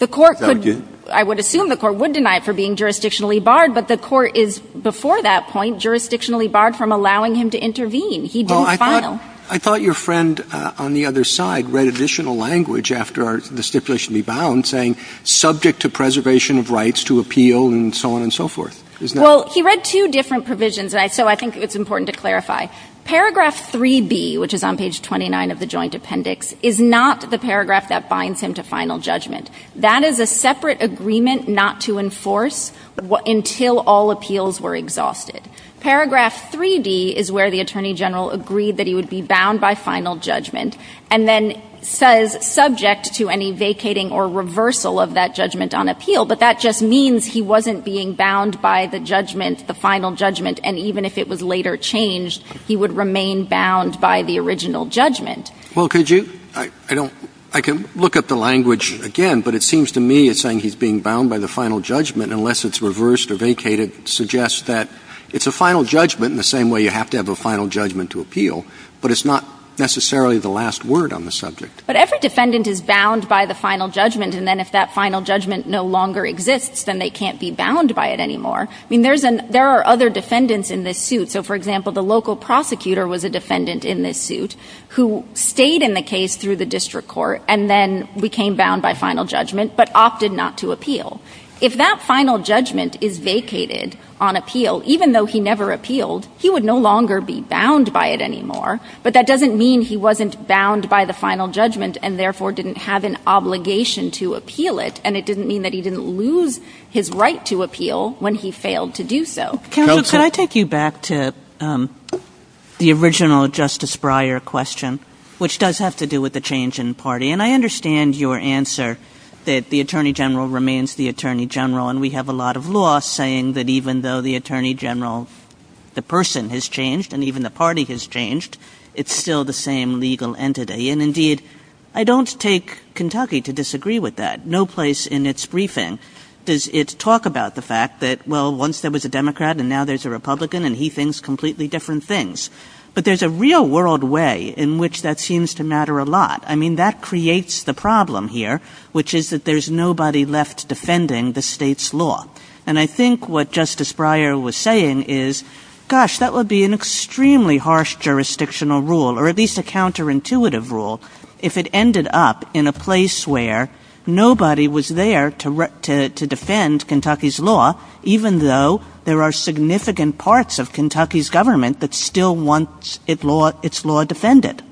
I would assume the court would deny it for being jurisdictionally barred, but the court is, before that point, jurisdictionally barred from allowing him to intervene. He did not file. I thought your friend on the other side read additional language after the stipulation rebound saying subject to preservation of rights to appeal and so on and so forth. Well, he read two different provisions, and so I think it's important to clarify. Paragraph 3B, which is on page 29 of the joint appendix, is not the paragraph that binds him to final judgment. That is a separate agreement not to enforce until all appeals were exhausted. Paragraph 3D is where the attorney general agreed that he would be bound by final judgment and then says subject to any vacating or reversal of that judgment on appeal, but that just means he wasn't being bound by the judgment, the final judgment, and even if it was later changed, he would remain bound by the original judgment. Well, could you? I don't. I can look up the language again, but it seems to me it's saying he's being bound by the It's a final judgment in the same way you have to have a final judgment to appeal, but it's not necessarily the last word on the subject. But every defendant is bound by the final judgment, and then if that final judgment no longer exists, then they can't be bound by it anymore. I mean, there are other defendants in this suit. So, for example, the local prosecutor was a defendant in this suit who stayed in the case through the district court and then became bound by final judgment but opted not to appeal. If that final judgment is vacated on appeal, even though he never appealed, he would no longer be bound by it anymore, but that doesn't mean he wasn't bound by the final judgment and therefore didn't have an obligation to appeal it, and it didn't mean that he didn't lose his right to appeal when he failed to do so. Counsel, could I take you back to the original Justice Breyer question, which does have to do with the change in party? And I understand your answer that the Attorney General remains the Attorney General, and we have a lot of law saying that even though the Attorney General, the person, has changed and even the party has changed, it's still the same legal entity. And indeed, I don't take Kentucky to disagree with that. No place in its briefing does it talk about the fact that, well, once there was a Democrat and now there's a Republican, and he thinks completely different things. But there's a real-world way in which that seems to matter a lot. I mean, that creates the problem here, which is that there's nobody left defending the state's law. And I think what Justice Breyer was saying is, gosh, that would be an extremely harsh jurisdictional rule, or at least a counterintuitive rule, if it ended up in a place where nobody was there to defend Kentucky's law, even though there are significant parts of Kentucky's government that still wants its law defended.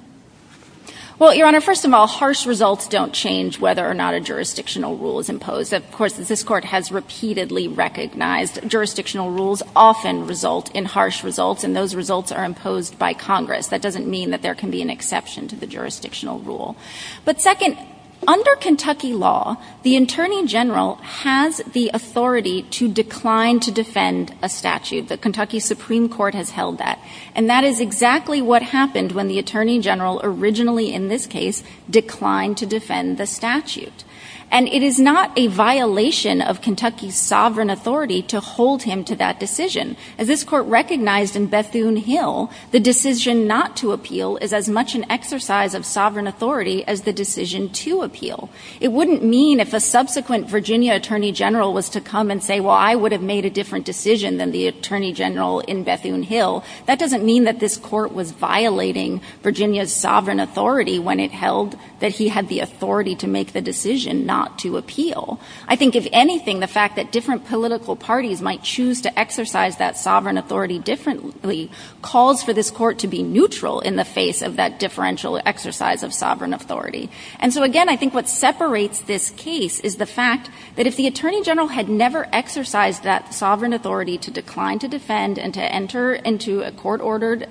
Well, Your Honor, first of all, harsh results don't change whether or not a jurisdictional rule is imposed. Of course, this Court has repeatedly recognized jurisdictional rules often result in harsh results, and those results are imposed by Congress. That doesn't mean that there can be an exception to the jurisdictional rule. But second, under Kentucky law, the Attorney General has the authority to decline to defend a statute. The Kentucky Supreme Court has held that. And that is exactly what happened when the Attorney General originally, in this case, declined to defend the statute. And it is not a violation of Kentucky's sovereign authority to hold him to that decision. As this Court recognized in Bethune-Hill, the decision not to appeal is as much an exercise of sovereign authority as the decision to appeal. It wouldn't mean if a subsequent Virginia Attorney General was to come and say, well, I would have made a different decision than the Attorney General in Bethune-Hill. That doesn't mean that this Court was violating Virginia's sovereign authority when it held that he had the authority to make the decision not to appeal. I think, if anything, the fact that different political parties might choose to exercise that sovereign authority differently calls for this Court to be neutral in the face of that differential exercise of sovereign authority. And so, again, I think what separates this case is the fact that if the Attorney General had never exercised that sovereign authority to decline to defend and to enter into a court-ordered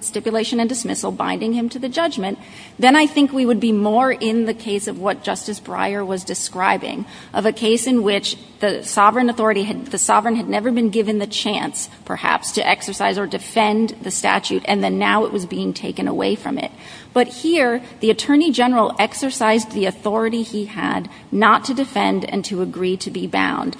stipulation and dismissal binding him to the judgment, then I think we would be more in the case of what Justice Breyer was describing, of a case in which the sovereign authority, the sovereign had never been given the chance, perhaps, to exercise or defend the statute, and then now it was being taken away from it. But here, the Attorney General exercised the authority he had not to defend and to agree to be bound.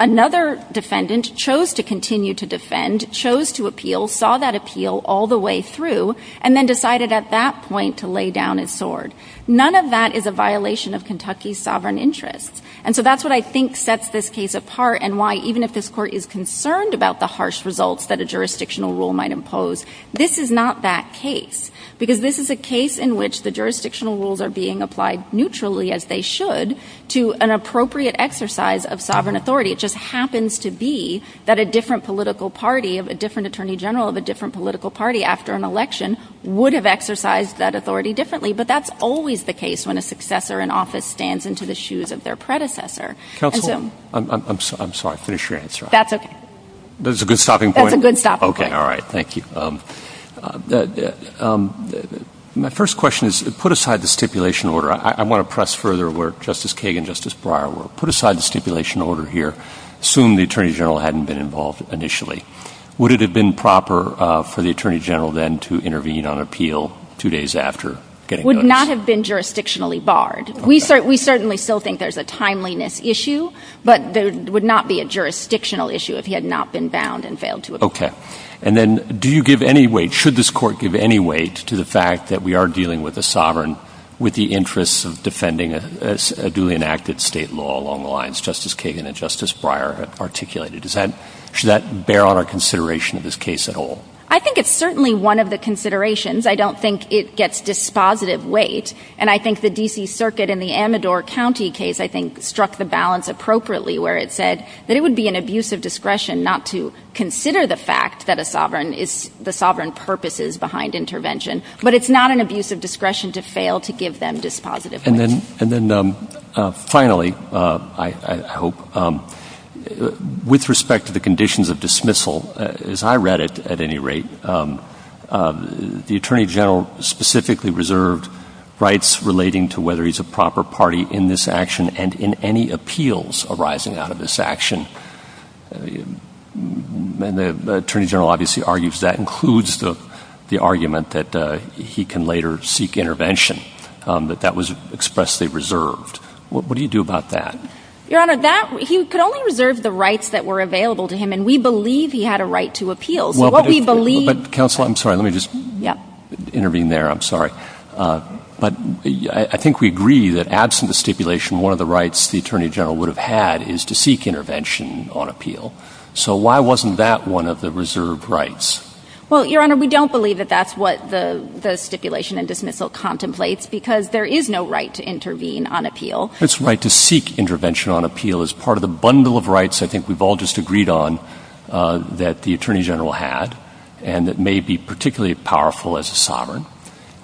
Another defendant chose to continue to defend, chose to appeal, saw that appeal all the way through, and then decided at that point to lay down his sword. None of that is a violation of Kentucky's sovereign interests. And so that's what I think sets this case apart and why, even if this Court is concerned about the harsh results that a jurisdictional rule might impose, this is not that case. Because this is a case in which the jurisdictional rules are being applied neutrally, as they should, to an appropriate exercise of sovereign authority. It just happens to be that a different political party, a different Attorney General of a different political party, after an election, would have exercised that authority differently. But that's always the case when a successor in office stands into the shoes of their predecessor. Counsel, I'm sorry, finish your answer. That's a good stopping point? That's a good stopping point. Okay, all right, thank you. My first question is, put aside the stipulation order. I want to press further where Justice Kagan and Justice Breyer were. Put aside the stipulation order here. Assume the Attorney General hadn't been involved initially. Would it have been proper for the Attorney General then to intervene on appeal two days after getting the notice? Would not have been jurisdictionally barred. We certainly still think there's a timeliness issue, but there would not be a jurisdictional issue if he had not been bound and failed to appeal. Okay. And then, do you give any weight, should this Court give any weight to the fact that we are dealing with a sovereign with the interests of defending a duly enacted state law along the lines Justice Kagan and Justice Breyer have articulated? Should that bear on our consideration of this case at all? I think it's certainly one of the considerations. I don't think it gets dispositive weight. And I think the D.C. Circuit in the Amador County case, I think, struck the balance appropriately where it said that it would be an abuse of discretion not to consider the fact that a sovereign is the sovereign purposes behind intervention. But it's not an abuse of discretion to fail to give them dispositive weight. And then finally, I hope, with respect to the conditions of dismissal, as I read it at any rate, the Attorney General specifically reserved rights relating to whether he's a proper party in this action and in any appeals arising out of this action. And the Attorney General obviously argues that includes the argument that he can later seek intervention, that that was expressly reserved. What do you do about that? Your Honor, he could only reserve the rights that were available to him, and we believe he had a right to appeal. Counsel, I'm sorry. Let me just intervene there. I'm sorry. But I think we agree that, absent the stipulation, one of the rights the Attorney General would have had is to seek intervention on appeal. So why wasn't that one of the reserved rights? Well, Your Honor, we don't believe that that's what the stipulation and dismissal contemplates because there is no right to intervene on appeal. His right to seek intervention on appeal is part of the bundle of rights I think we've all just agreed on that the Attorney General had and that may be particularly powerful as a sovereign.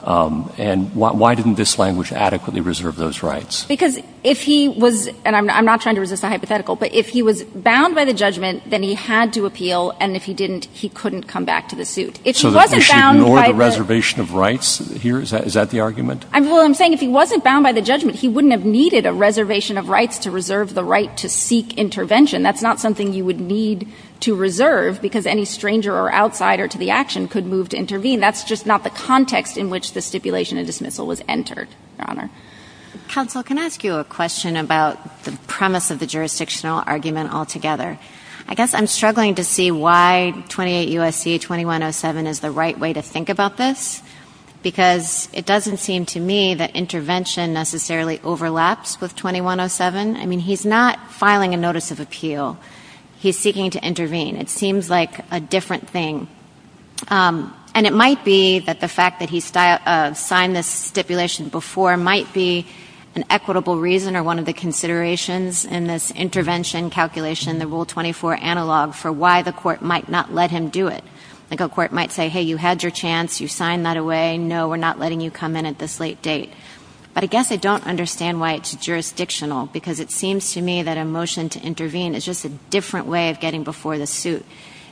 And why didn't this language adequately reserve those rights? Because if he was, and I'm not trying to resist my hypothetical, but if he was bound by the judgment, then he had to appeal, and if he didn't, he couldn't come back to the suit. If he wasn't bound by the – So the question is to ignore the reservation of rights here? Is that the argument? Well, I'm saying if he wasn't bound by the judgment, he wouldn't have needed a reservation of rights to reserve the right to seek intervention. That's not something you would need to reserve because any stranger or outsider to the action could move to intervene. That's just not the context in which the stipulation and dismissal was entered, Your Honor. Counsel, can I ask you a question about the premise of the jurisdictional argument altogether? I guess I'm struggling to see why 28 U.S.C. 2107 is the right way to think about this because it doesn't seem to me that intervention necessarily overlaps with 2107. I mean, he's not filing a notice of appeal. He's seeking to intervene. It seems like a different thing. And it might be that the fact that he signed this stipulation before might be an equitable reason or one of the considerations in this intervention calculation, the Rule 24 analog, for why the court might not let him do it. The court might say, hey, you had your chance. You signed that away. No, we're not letting you come in at this late date. But I guess I don't understand why it's jurisdictional because it seems to me that a motion to intervene is just a different way of getting before the suit.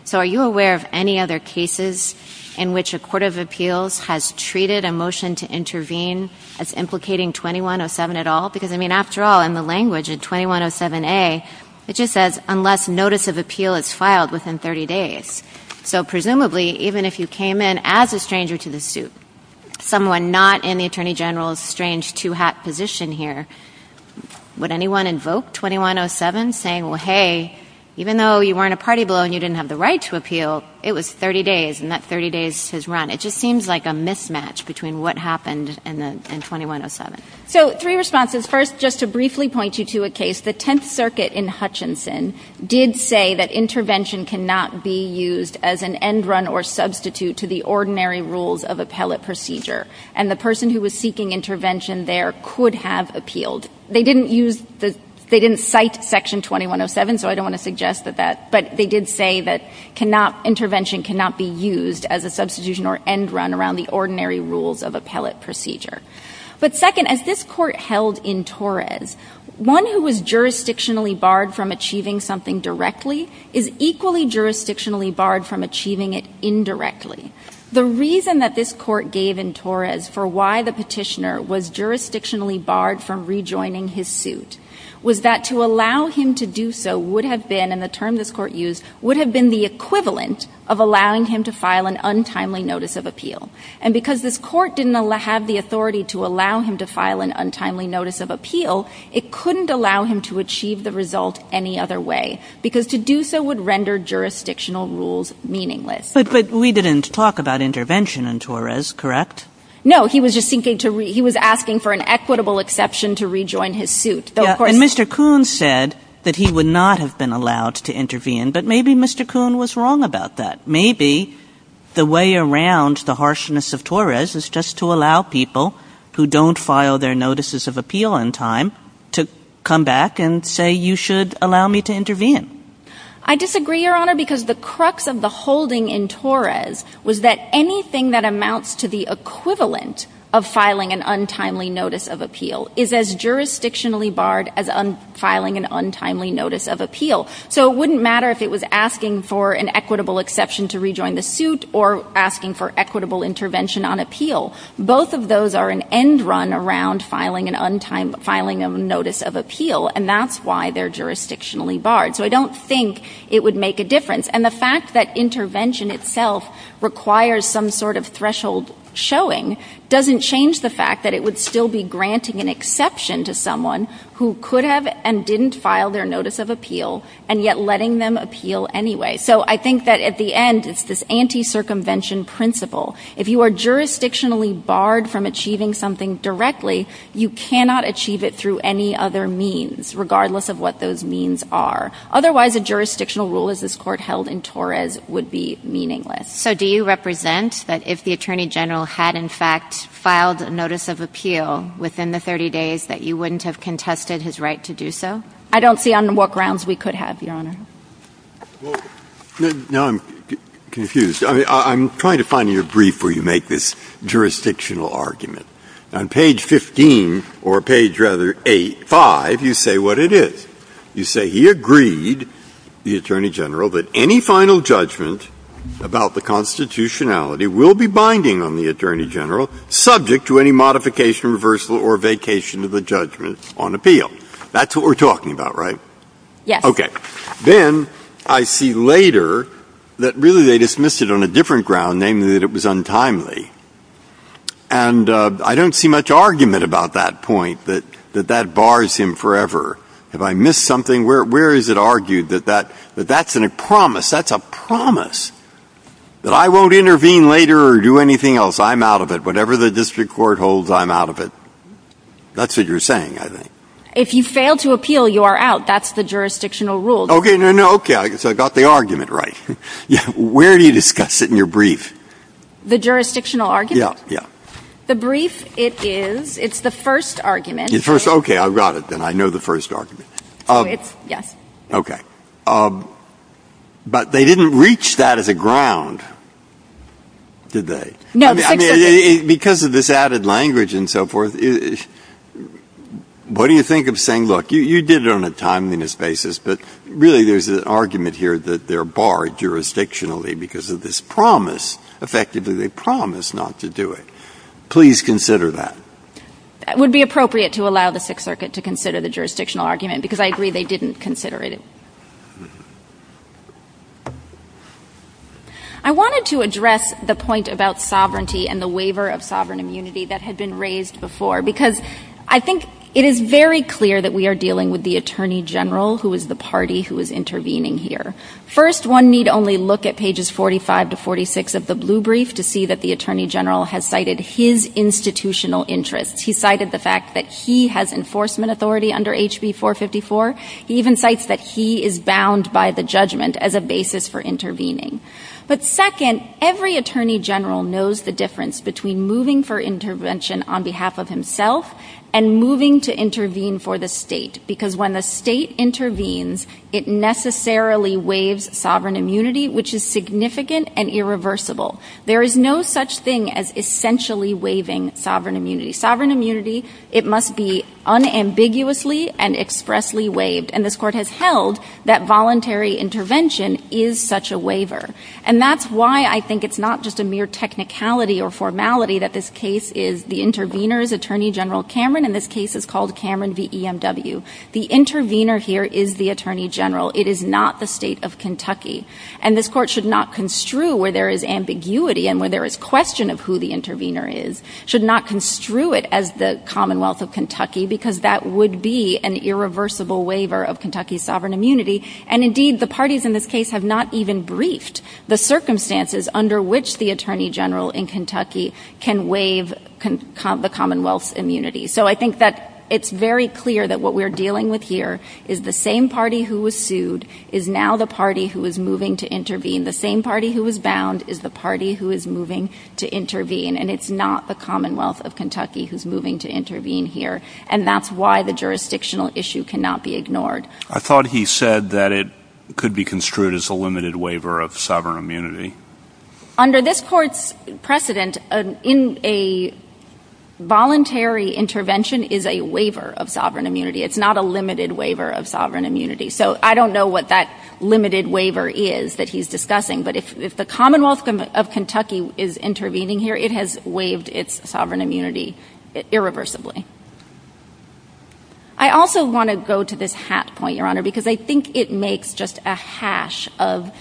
So are you aware of any other cases in which a court of appeals has treated a motion to intervene as implicating 2107 at all? Because, I mean, after all, in the language of 2107A, it just says unless notice of appeal is filed within 30 days. So presumably, even if you came in as a stranger to the suit, someone not in the Attorney General's strange two-hat position here, would anyone invoke 2107 saying, well, hey, even though you weren't a party blow and you didn't have the right to appeal, it was 30 days, and that 30 days has run. It just seems like a mismatch between what happened and 2107. So three responses. First, just to briefly point you to a case, the Tenth Circuit in Hutchinson did say that intervention cannot be used as an end run or substitute to the ordinary rules of appellate procedure. And the person who was seeking intervention there could have appealed. They didn't cite Section 2107, so I don't want to suggest that. But they did say that intervention cannot be used as a substitution or end run around the ordinary rules of appellate procedure. But second, as this court held in Torres, one who was jurisdictionally barred from achieving something directly is equally jurisdictionally barred from achieving it indirectly. The reason that this court gave in Torres for why the petitioner was jurisdictionally barred from rejoining his suit was that to allow him to do so would have been, and the term this court used, would have been the equivalent of allowing him to file an untimely notice of appeal. And because this court didn't have the authority to allow him to file an untimely notice of appeal, it couldn't allow him to achieve the result any other way, because to do so would render jurisdictional rules meaningless. But we didn't talk about intervention in Torres, correct? No, he was just asking for an equitable exception to rejoin his suit. And Mr. Kuhn said that he would not have been allowed to intervene. But maybe Mr. Kuhn was wrong about that. Maybe the way around the harshness of Torres is just to allow people who don't file their notices of appeal in time to come back and say, you should allow me to intervene. I disagree, Your Honor, because the crux of the holding in Torres was that anything that amounts to the equivalent of filing an untimely notice of appeal is as jurisdictionally barred as filing an untimely notice of appeal. So it wouldn't matter if it was asking for an equitable exception to rejoin the suit or asking for equitable intervention on appeal. Both of those are an end run around filing an untimely notice of appeal, and that's why they're jurisdictionally barred. So I don't think it would make a difference. And the fact that intervention itself requires some sort of threshold showing doesn't change the fact that it would still be granting an exception to someone who could have and didn't file their notice of appeal and yet letting them appeal anyway. So I think that at the end, it's this anti-circumvention principle. If you are jurisdictionally barred from achieving something directly, you cannot achieve it through any other means, regardless of what those means are. Otherwise, a jurisdictional rule as this Court held in Torres would be meaningless. So do you represent that if the Attorney General had, in fact, filed a notice of appeal within the 30 days that you wouldn't have contested his right to do so? I don't see on what grounds we could have, Your Honor. Well, now I'm confused. I'm trying to find you a brief where you make this jurisdictional argument. On page 15, or page rather, 8, 5, you say what it is. You say he agreed, the Attorney General, that any final judgment about the constitutionality will be binding on the Attorney General subject to any modification, reversal, or vacation of the judgments on appeal. That's what we're talking about, right? Yes. Okay. Then I see later that really they dismissed it on a different ground, namely that it was untimely. And I don't see much argument about that point, that that bars him forever. Have I missed something? Where is it argued that that's a promise? That's a promise that I won't intervene later or do anything else. I'm out of it. Whatever the district court holds, I'm out of it. That's what you're saying, I think. If you fail to appeal, you are out. That's the jurisdictional rule. Okay. So I got the argument right. Where do you discuss it in your brief? The jurisdictional argument? Yeah. The brief, it's the first argument. Okay. I got it then. I know the first argument. Yes. Okay. But they didn't reach that as a ground, did they? No. Because of this added language and so forth, what do you think of saying, look, you did it on a timeliness basis, but really there's an argument here that they're barred jurisdictionally because of this promise. Effectively, they promised not to do it. Please consider that. It would be appropriate to allow the Sixth Circuit to consider the jurisdictional argument because I agree they didn't consider it. I wanted to address the point about sovereignty and the waiver of sovereign immunity that had been raised before because I think it is very clear that we are dealing with the Attorney General, who is the party who is intervening here. First, one need only look at pages 45 to 46 of the blue brief to see that the Attorney General has cited his institutional interests. He cited the fact that he has enforcement authority under HB 454. He even cites that he is bound by the judgment as a basis for intervening. But second, every Attorney General knows the difference between moving for intervention on behalf of himself and moving to intervene for the state because when the state intervenes, it necessarily waives sovereign immunity, which is significant and irreversible. There is no such thing as essentially waiving sovereign immunity. Sovereign immunity, it must be unambiguously and expressly waived. And this Court has held that voluntary intervention is such a waiver. And that's why I think it's not just a mere technicality or formality that this case is the intervener is Attorney General Cameron, and this case is called Cameron v. EMW. The intervener here is the Attorney General. It is not the state of Kentucky. And this Court should not construe where there is ambiguity and where there is question of who the intervener is, should not construe it as the Commonwealth of Kentucky because that would be an irreversible waiver of Kentucky's sovereign immunity. And indeed, the parties in this case have not even briefed the circumstances under which the Attorney General in Kentucky can waive the Commonwealth's immunity. So I think that it's very clear that what we're dealing with here is the same party who was sued is now the party who is moving to intervene. The same party who was bound is the party who is moving to intervene. And it's not the Commonwealth of Kentucky who's moving to intervene here. And that's why the jurisdictional issue cannot be ignored. I thought he said that it could be construed as a limited waiver of sovereign immunity. Under this Court's precedent, a voluntary intervention is a waiver of sovereign immunity. It's not a limited waiver of sovereign immunity. So I don't know what that limited waiver is that he's discussing, but if the Commonwealth of Kentucky is intervening here, it has waived its sovereign immunity irreversibly. I also want to go to this hat point, Your Honor, because I think it makes just a hash of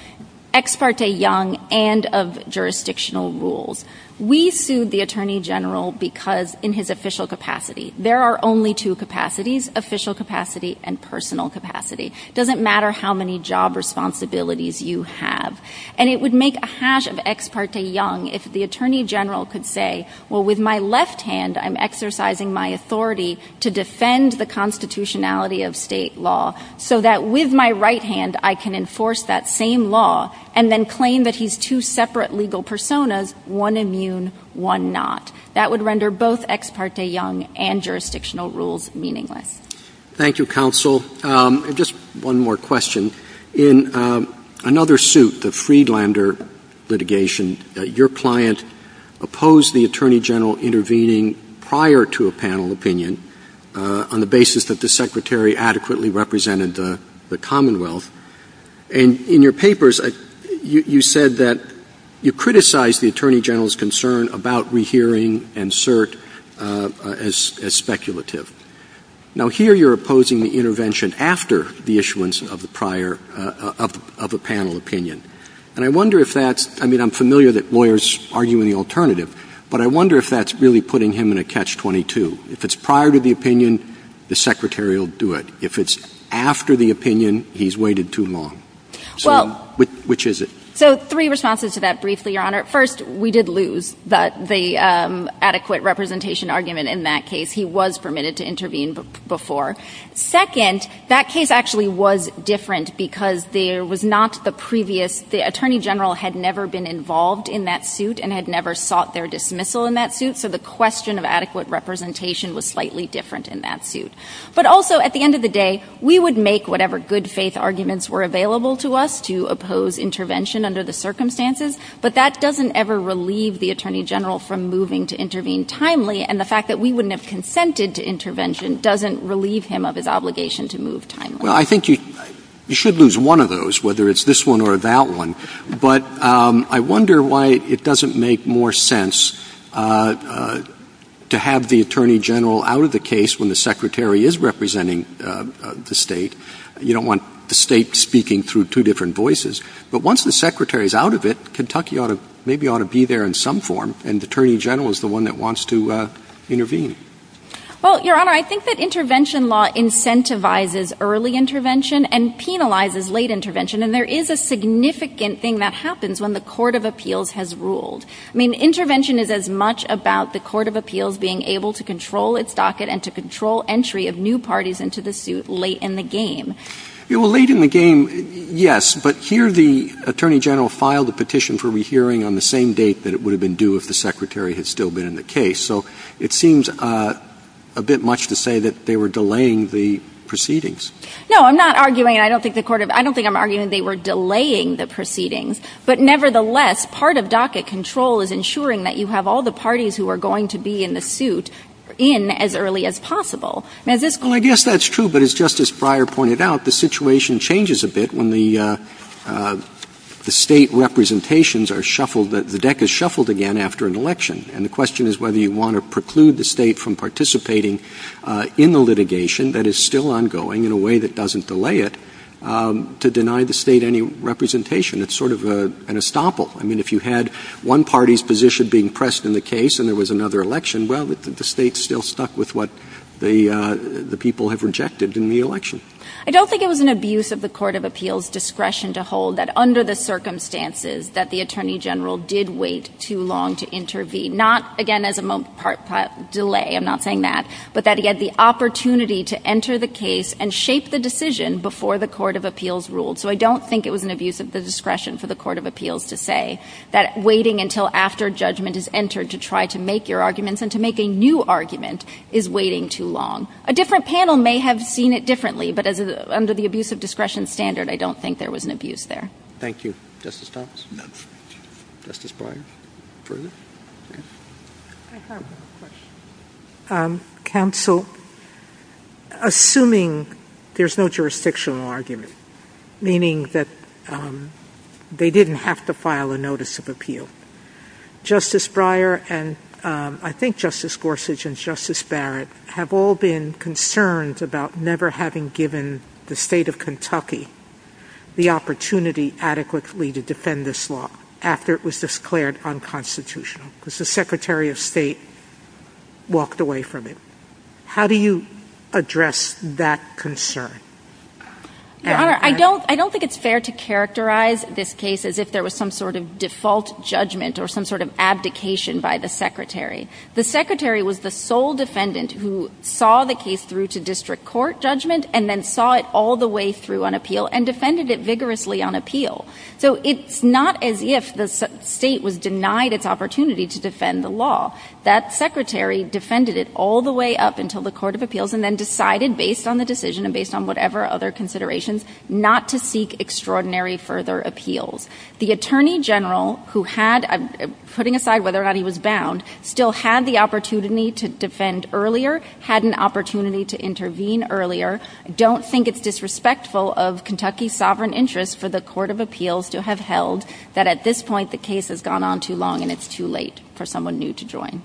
Ex parte Young and of jurisdictional rules. We sued the Attorney General because in his official capacity, there are only two capacities, official capacity and personal capacity. It doesn't matter how many job responsibilities you have. And it would make a hash of Ex parte Young if the Attorney General could say, well, with my left hand I'm exercising my authority to defend the constitutionality of state law so that with my right hand I can enforce that same law and then claim that he's two separate legal personas, one immune, one not. That would render both Ex parte Young and jurisdictional rules meaningless. Thank you, Counsel. Just one more question. In another suit, the Friedlander litigation, your client opposed the Attorney General intervening prior to a panel opinion on the basis that the Secretary adequately represented the Commonwealth. And in your papers, you said that you criticized the Attorney General's concern about rehearing and cert as speculative. Now, here you're opposing the intervention after the issuance of a panel opinion. And I wonder if that's, I mean, I'm familiar that lawyers argue in the alternative, but I wonder if that's really putting him in a catch-22. If it's prior to the opinion, the Secretary will do it. If it's after the opinion, he's waited too long. So which is it? So three responses to that briefly, Your Honor. First, we did lose the adequate representation argument in that case. He was permitted to intervene before. Second, that case actually was different because there was not the previous, the Attorney General had never been involved in that suit and had never sought their dismissal in that suit, so the question of adequate representation was slightly different in that suit. But also, at the end of the day, we would make whatever good faith arguments were available to us to oppose intervention under the circumstances, but that doesn't ever relieve the Attorney General from moving to intervene timely, and the fact that we wouldn't have consented to intervention doesn't relieve him of his obligation to move timely. Well, I think you should lose one of those, whether it's this one or that one. But I wonder why it doesn't make more sense to have the Attorney General out of the case when the Secretary is representing the state. You don't want the state speaking through two different voices. But once the Secretary is out of it, Kentucky maybe ought to be there in some form, and the Attorney General is the one that wants to intervene. Well, Your Honor, I think that intervention law incentivizes early intervention and penalizes late intervention, and there is a significant thing that happens when the Court of Appeals has ruled. I mean, intervention is as much about the Court of Appeals being able to control its docket and to control entry of new parties into the suit late in the game. Well, late in the game, yes. But here the Attorney General filed a petition for rehearing on the same date that it would have been due if the Secretary had still been in the case. So it seems a bit much to say that they were delaying the proceedings. No, I'm not arguing that. I don't think I'm arguing they were delaying the proceedings. But nevertheless, part of docket control is ensuring that you have all the parties Well, I guess that's true, but as Justice Breyer pointed out, the situation changes a bit when the state representations are shuffled. The deck is shuffled again after an election, and the question is whether you want to preclude the state from participating in the litigation that is still ongoing in a way that doesn't delay it to deny the state any representation. It's sort of an estoppel. I mean, if you had one party's position being pressed in the case and there was another election, well, the state still stuck with what the people have rejected in the election. I don't think it was an abuse of the Court of Appeals' discretion to hold that under the circumstances that the Attorney General did wait too long to intervene. Not, again, as a delay, I'm not saying that, but that he had the opportunity to enter the case and shape the decision before the Court of Appeals ruled. So I don't think it was an abuse of the discretion for the Court of Appeals to say that waiting until after judgment is entered to try to make your arguments and to make a new argument is waiting too long. A different panel may have seen it differently, but under the abuse of discretion standard, I don't think there was an abuse there. Thank you, Justice Thomas. Justice Breyer, please. Counsel, assuming there's no jurisdictional argument, meaning that they didn't have to file a notice of appeal, Justice Breyer and I think Justice Gorsuch and Justice Barrett have all been concerned about never having given the state of Kentucky the opportunity adequately to defend this law after it was declared unconstitutional because the Secretary of State walked away from it. How do you address that concern? I don't think it's fair to characterize this case as if there was some sort of default judgment or some sort of abdication by the Secretary. The Secretary was the sole defendant who saw the case through to district court judgment and then saw it all the way through on appeal and defended it vigorously on appeal. So it's not as if the state was denied its opportunity to defend the law. That Secretary defended it all the way up until the Court of Appeals and then decided based on the decision and based on whatever other considerations not to seek extraordinary further appeals. The Attorney General, putting aside whether or not he was bound, still had the opportunity to defend earlier, had an opportunity to intervene earlier. I don't think it's disrespectful of Kentucky's sovereign interest for the Court of Appeals to have held that at this point the case has gone on too long and it's too late for someone new to join.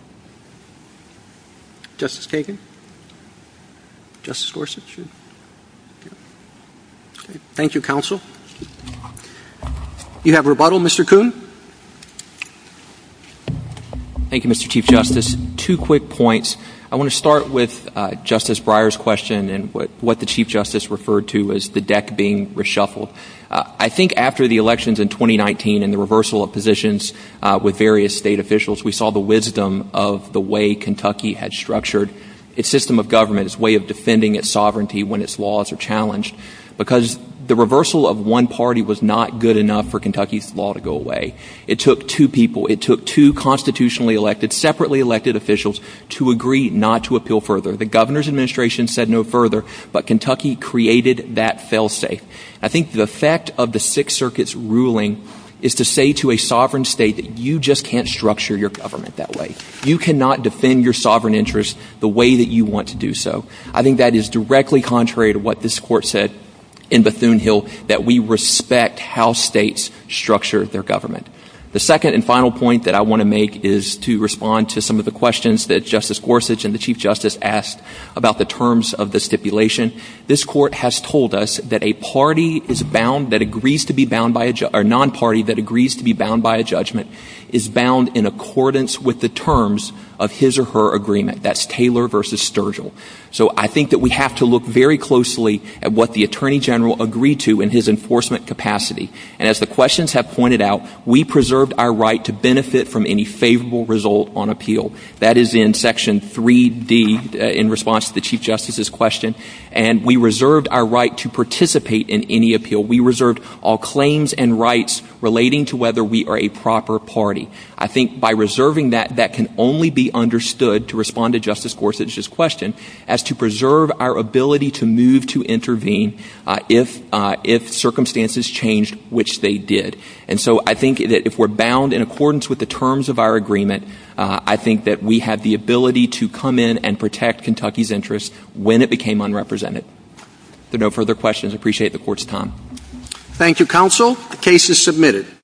Justice Kagan? Justice Gorsuch? Thank you, Counsel. You have rebuttal, Mr. Coon? Thank you, Mr. Chief Justice. Two quick points. I want to start with Justice Breyer's question and what the Chief Justice referred to as the deck being reshuffled. I think after the elections in 2019 and the reversal of positions with various state officials, we saw the wisdom of the way Kentucky had structured its system of government, its way of defending its sovereignty when its laws are challenged, because the reversal of one party was not good enough for Kentucky's law to go away. It took two people. It took two constitutionally elected, separately elected officials to agree not to appeal further. The governor's administration said no further, but Kentucky created that failsafe. I think the effect of the Sixth Circuit's ruling is to say to a sovereign state that you just can't structure your government that way. You cannot defend your sovereign interests the way that you want to do so. I think that is directly contrary to what this Court said in Bethune-Hill, that we respect how states structure their government. The second and final point that I want to make is to respond to some of the questions that Justice Gorsuch and the Chief Justice asked about the terms of the stipulation. This Court has told us that a non-party that agrees to be bound by a judgment is bound in accordance with the terms of his or her agreement. That's Taylor v. Sturgill. So I think that we have to look very closely at what the Attorney General agreed to in his enforcement capacity. And as the questions have pointed out, we preserved our right to benefit from any favorable result on appeal. That is in Section 3D in response to the Chief Justice's question. And we reserved our right to participate in any appeal. We reserved all claims and rights relating to whether we are a proper party. I think by reserving that, that can only be understood, to respond to Justice Gorsuch's question, as to preserve our ability to move to intervene if circumstances change, which they did. And so I think that if we're bound in accordance with the terms of our agreement, I think that we have the ability to come in and protect Kentucky's interests when it became unrepresented. If there are no further questions, I appreciate the Court's time. Thank you, Counsel. The case is submitted.